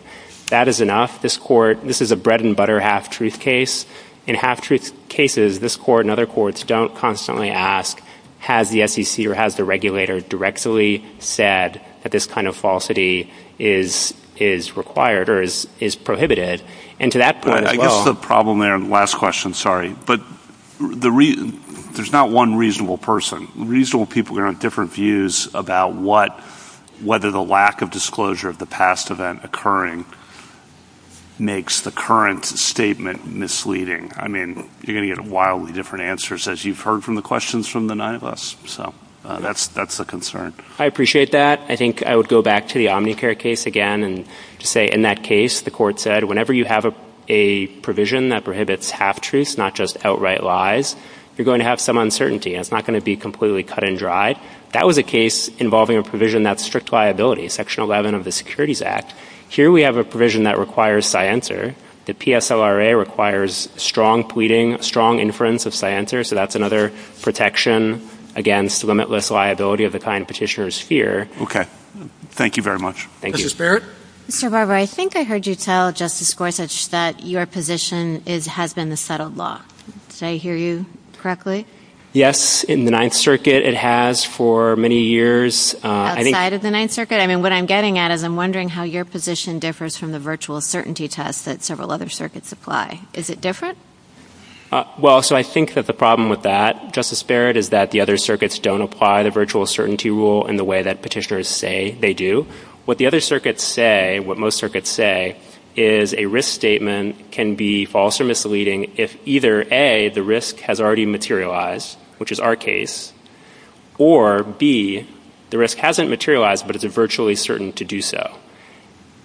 That is enough. This is a bread-and-butter half-truth case. In half-truth cases, this Court and other courts don't constantly ask, has the FCC or has the regulator directly said that this kind of falsity is required or is prohibited? I guess the problem there, and last question, sorry, but there's not one reasonable person. Reasonable people are on different views about whether the lack of disclosure of the past event occurring makes the current statement misleading. I mean, you're going to get wildly different answers as you've heard from the questions from the nine of us. So that's a concern. I appreciate that. I think I would go back to the Omnicare case again and say in that case, the Court said whenever you have a provision that prohibits half-truths, not just outright lies, you're going to have some uncertainty and it's not going to be completely cut and dry. That was a case involving a provision that's strict liability, Section 11 of the Securities Act. Here we have a provision that requires sciencer. The PSLRA requires strong pleading, strong inference of sciencer, so that's another protection against limitless liability of the kind petitioners fear. Okay. Thank you very much. Thank you. Justice Barrett? Mr. Barber, I think I heard you tell Justice Gorsuch that your position has been the settled law. Did I hear you correctly? Yes, in the Ninth Circuit it has for many years. Outside of the Ninth Circuit? I mean, what I'm getting at is I'm wondering how your position differs from the virtual certainty test that several other circuits apply. Is it different? Well, so I think that the problem with that, Justice Barrett, is that the other circuits don't apply the virtual certainty rule in the way that petitioners say they do. What the other circuits say, what most circuits say, is a risk statement can be false or misleading if either A, the risk has already materialized, which is our case, or B, the risk hasn't materialized, but it's virtually certain to do so.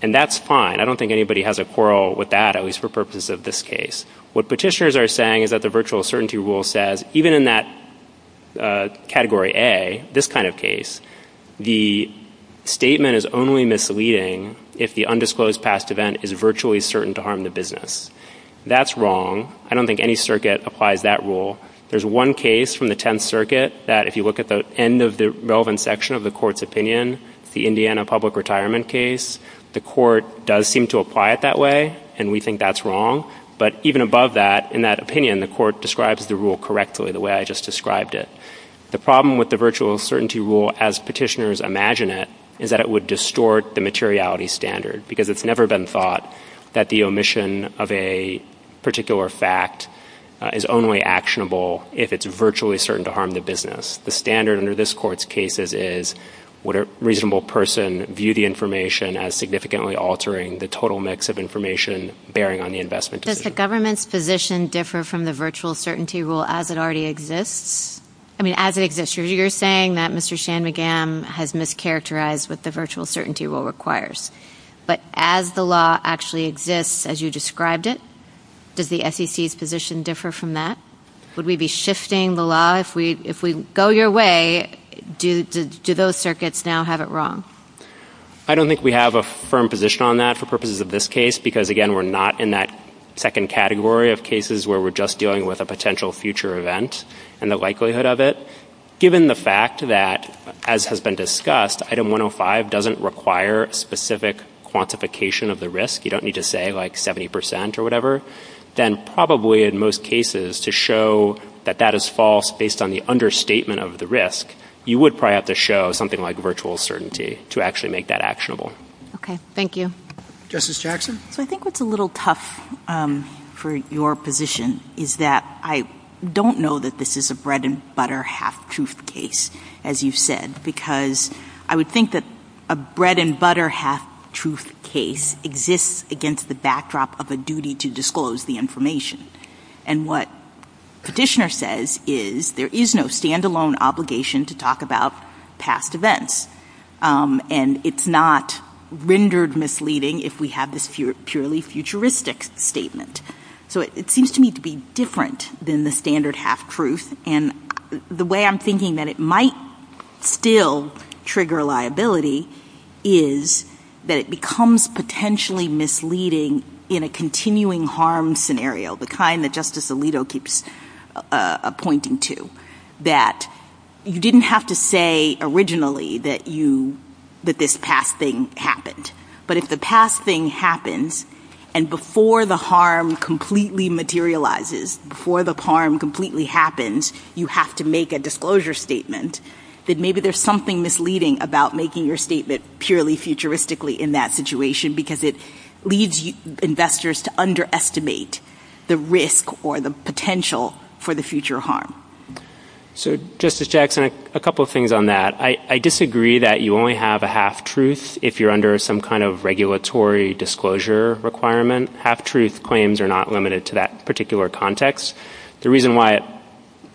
And that's fine. I don't think anybody has a quarrel with that, at least for purposes of this case. What petitioners are saying is that the virtual certainty rule says, even in that Category A, this kind of case, the statement is only misleading if the undisclosed past event is virtually certain to harm the business. That's wrong. I don't think any circuit applies that rule. There's one case from the Tenth Circuit that if you look at the end of the relevant section of the court's opinion, the Indiana public retirement case, the court does seem to apply it that way, and we think that's wrong. But even above that, in that opinion, the court describes the rule correctly the way I just described it. The problem with the virtual certainty rule as petitioners imagine it is that it would distort the materiality standard because it's never been thought that the omission of a particular fact is only actionable if it's virtually certain to harm the business. The standard under this court's cases is what a reasonable person viewed the information as significantly altering the total mix of information bearing on the investment decision. Does the government's position differ from the virtual certainty rule as it already exists? I mean, as it exists. You're saying that Mr. Shanmugam has mischaracterized what the virtual certainty rule requires. But as the law actually exists as you described it, does the SEC's position differ from that? Would we be shifting the law? If we go your way, do those circuits now have it wrong? I don't think we have a firm position on that for purposes of this case because, again, we're not in that second category of cases where we're just dealing with a potential future event and the likelihood of it. Given the fact that, as has been discussed, Item 105 doesn't require specific quantification of the risk. You don't need to say, like, 70 percent or whatever. Then probably in most cases to show that that is false based on the understatement of the risk, you would probably have to show something like virtual certainty to actually make that actionable. Okay. Thank you. Justice Jackson? I think what's a little tough for your position is that I don't know that this is a bread-and-butter half-truth case, as you said, because I would think that a bread-and-butter half-truth case exists against the backdrop of a duty to disclose the information. And what Petitioner says is there is no stand-alone obligation to talk about past events, and it's not rendered misleading if we have this purely futuristic statement. So it seems to me to be different than the standard half-truth, and the way I'm thinking that it might still trigger liability is that it becomes potentially misleading in a continuing harm scenario, the kind that Justice Alito keeps pointing to, that you didn't have to say originally that this past thing happened. But if the past thing happened, and before the harm completely materializes, before the harm completely happens, you have to make a disclosure statement, then maybe there's something misleading about making your statement purely futuristically in that situation because it leads investors to underestimate the risk or the potential for the future harm. So, Justice Jackson, a couple of things on that. I disagree that you only have a half-truth if you're under some kind of regulatory disclosure requirement. Half-truth claims are not limited to that particular context. The reason why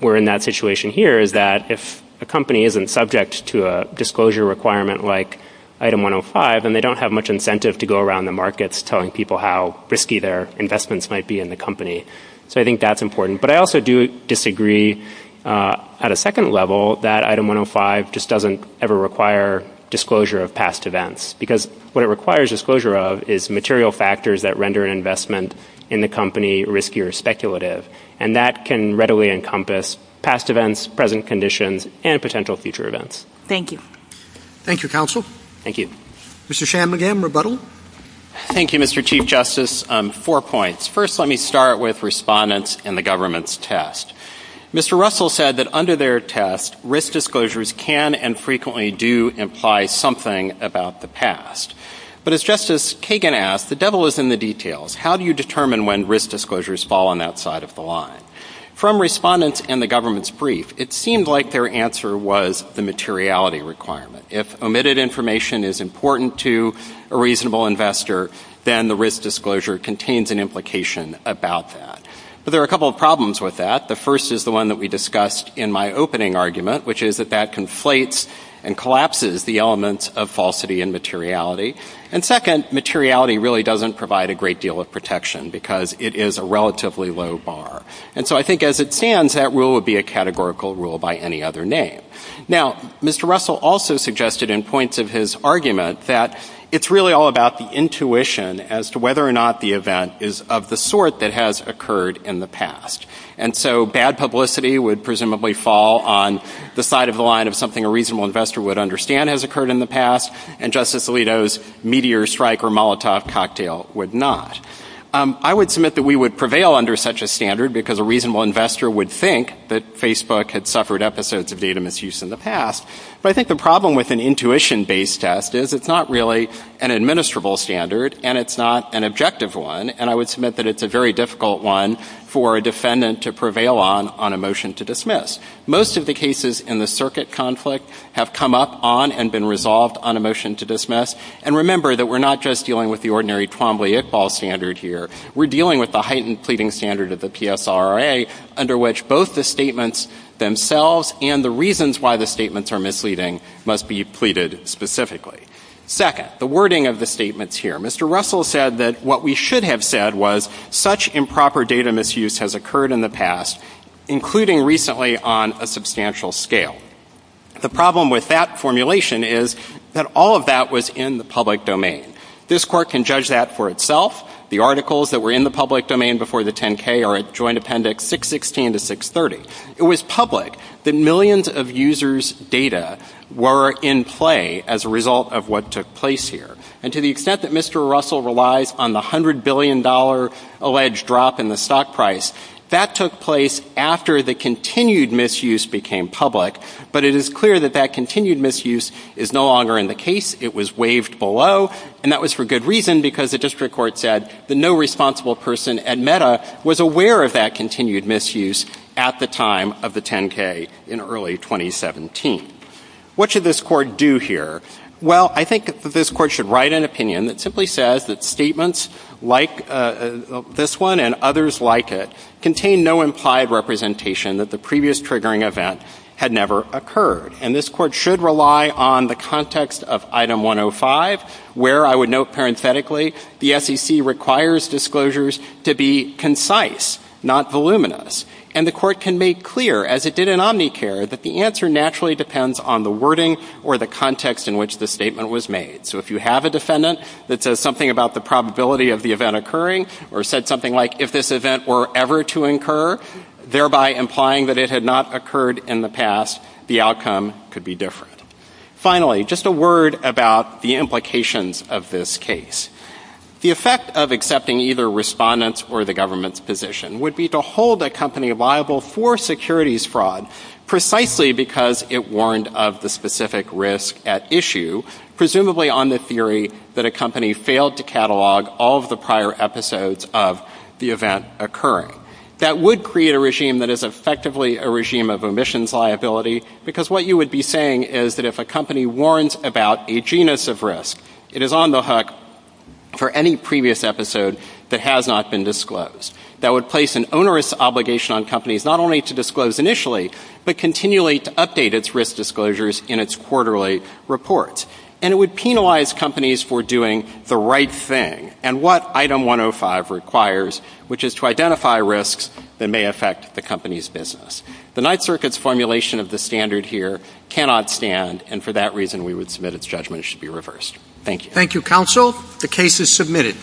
we're in that situation here is that if a company isn't subject to a disclosure requirement like Item 105, then they don't have much incentive to go around the markets telling people how risky their investments might be in the company. So I think that's important. But I also do disagree at a second level that Item 105 just doesn't ever require disclosure of past events because what it requires disclosure of is material factors that render investment in the company risky or speculative, and that can readily encompass past events, present conditions, and potential future events. Thank you. Thank you, Counsel. Thank you. Mr. Shanmugam, rebuttal. Thank you, Mr. Chief Justice. Four points. First, let me start with respondents and the government's test. Mr. Russell said that under their test, risk disclosures can and frequently do imply something about the past. But as Justice Kagan asked, the devil is in the details. How do you determine when risk disclosures fall on that side of the line? From respondents and the government's brief, it seemed like their answer was the materiality requirement. If omitted information is important to a reasonable investor, then the risk disclosure contains an implication about that. But there are a couple of problems with that. The first is the one that we discussed in my opening argument, which is that that conflates and collapses the elements of falsity and materiality. And second, materiality really doesn't provide a great deal of protection because it is a relatively low bar. And so I think as it stands, that rule would be a categorical rule by any other name. Now, Mr. Russell also suggested in points of his argument that it's really all about the intuition as to whether or not the event is of the sort that has occurred in the past. And so bad publicity would presumably fall on the side of the line of something a reasonable investor would understand has occurred in the past, and Justice Alito's meteor strike or Molotov cocktail would not. I would submit that we would prevail under such a standard because a reasonable investor would think that Facebook had suffered episodes of data misuse in the past. But I think the problem with an intuition-based test is it's not really an administrable standard, and it's not an objective one. And I would submit that it's a very difficult one for a defendant to prevail on on a motion to dismiss. Most of the cases in the circuit conflict have come up on and been resolved on a motion to dismiss. And remember that we're not just dealing with the ordinary Twombly-Iqbal standard here. We're dealing with the heightened pleading standard of the PSRA under which both the statements themselves and the reasons why the statements are misleading must be pleaded specifically. Second, the wording of the statements here. Mr. Russell said that what we should have said was such improper data misuse has occurred in the past, including recently on a substantial scale. The problem with that formulation is that all of that was in the public domain. This Court can judge that for itself. The articles that were in the public domain before the 10-K are at Joint Appendix 616 to 630. It was public that millions of users' data were in play as a result of what took place here. And to the extent that Mr. Russell relies on the $100 billion alleged drop in the stock price, that took place after the continued misuse became public. But it is clear that that continued misuse is no longer in the case. It was waived below. And that was for good reason because the district court said that no responsible person at META was aware of that continued misuse at the time of the 10-K in early 2017. What should this Court do here? Well, I think that this Court should write an opinion that simply says that statements like this one and others like it contain no implied representation that the previous triggering event had never occurred. And this Court should rely on the context of Item 105 where, I would note parenthetically, the SEC requires disclosures to be concise, not voluminous. And the Court can make clear, as it did in Omnicare, that the answer naturally depends on the wording or the context in which the statement was made. So if you have a defendant that says something about the probability of the event occurring or said something like, if this event were ever to occur, thereby implying that it had not occurred in the past, the outcome could be different. Finally, just a word about the implications of this case. The effect of accepting either respondents' or the government's position would be to hold a company liable for securities fraud precisely because it warned of the specific risk at issue, presumably on the theory that a company failed to catalog all of the prior episodes of the event occurring. That would create a regime that is effectively a regime of omissions liability because what you would be saying is that if a company warns about a genus of risk, it is on the hook for any previous episode that has not been disclosed. That would place an onerous obligation on companies not only to disclose initially, but continually to update its risk disclosures in its quarterly reports. And it would penalize companies for doing the right thing and what Item 105 requires, which is to identify risks that may affect the company's business. The Ninth Circuit's formulation of the standard here cannot stand, and for that reason we would submit its judgment it should be reversed. Thank you. Thank you, counsel. The case is submitted.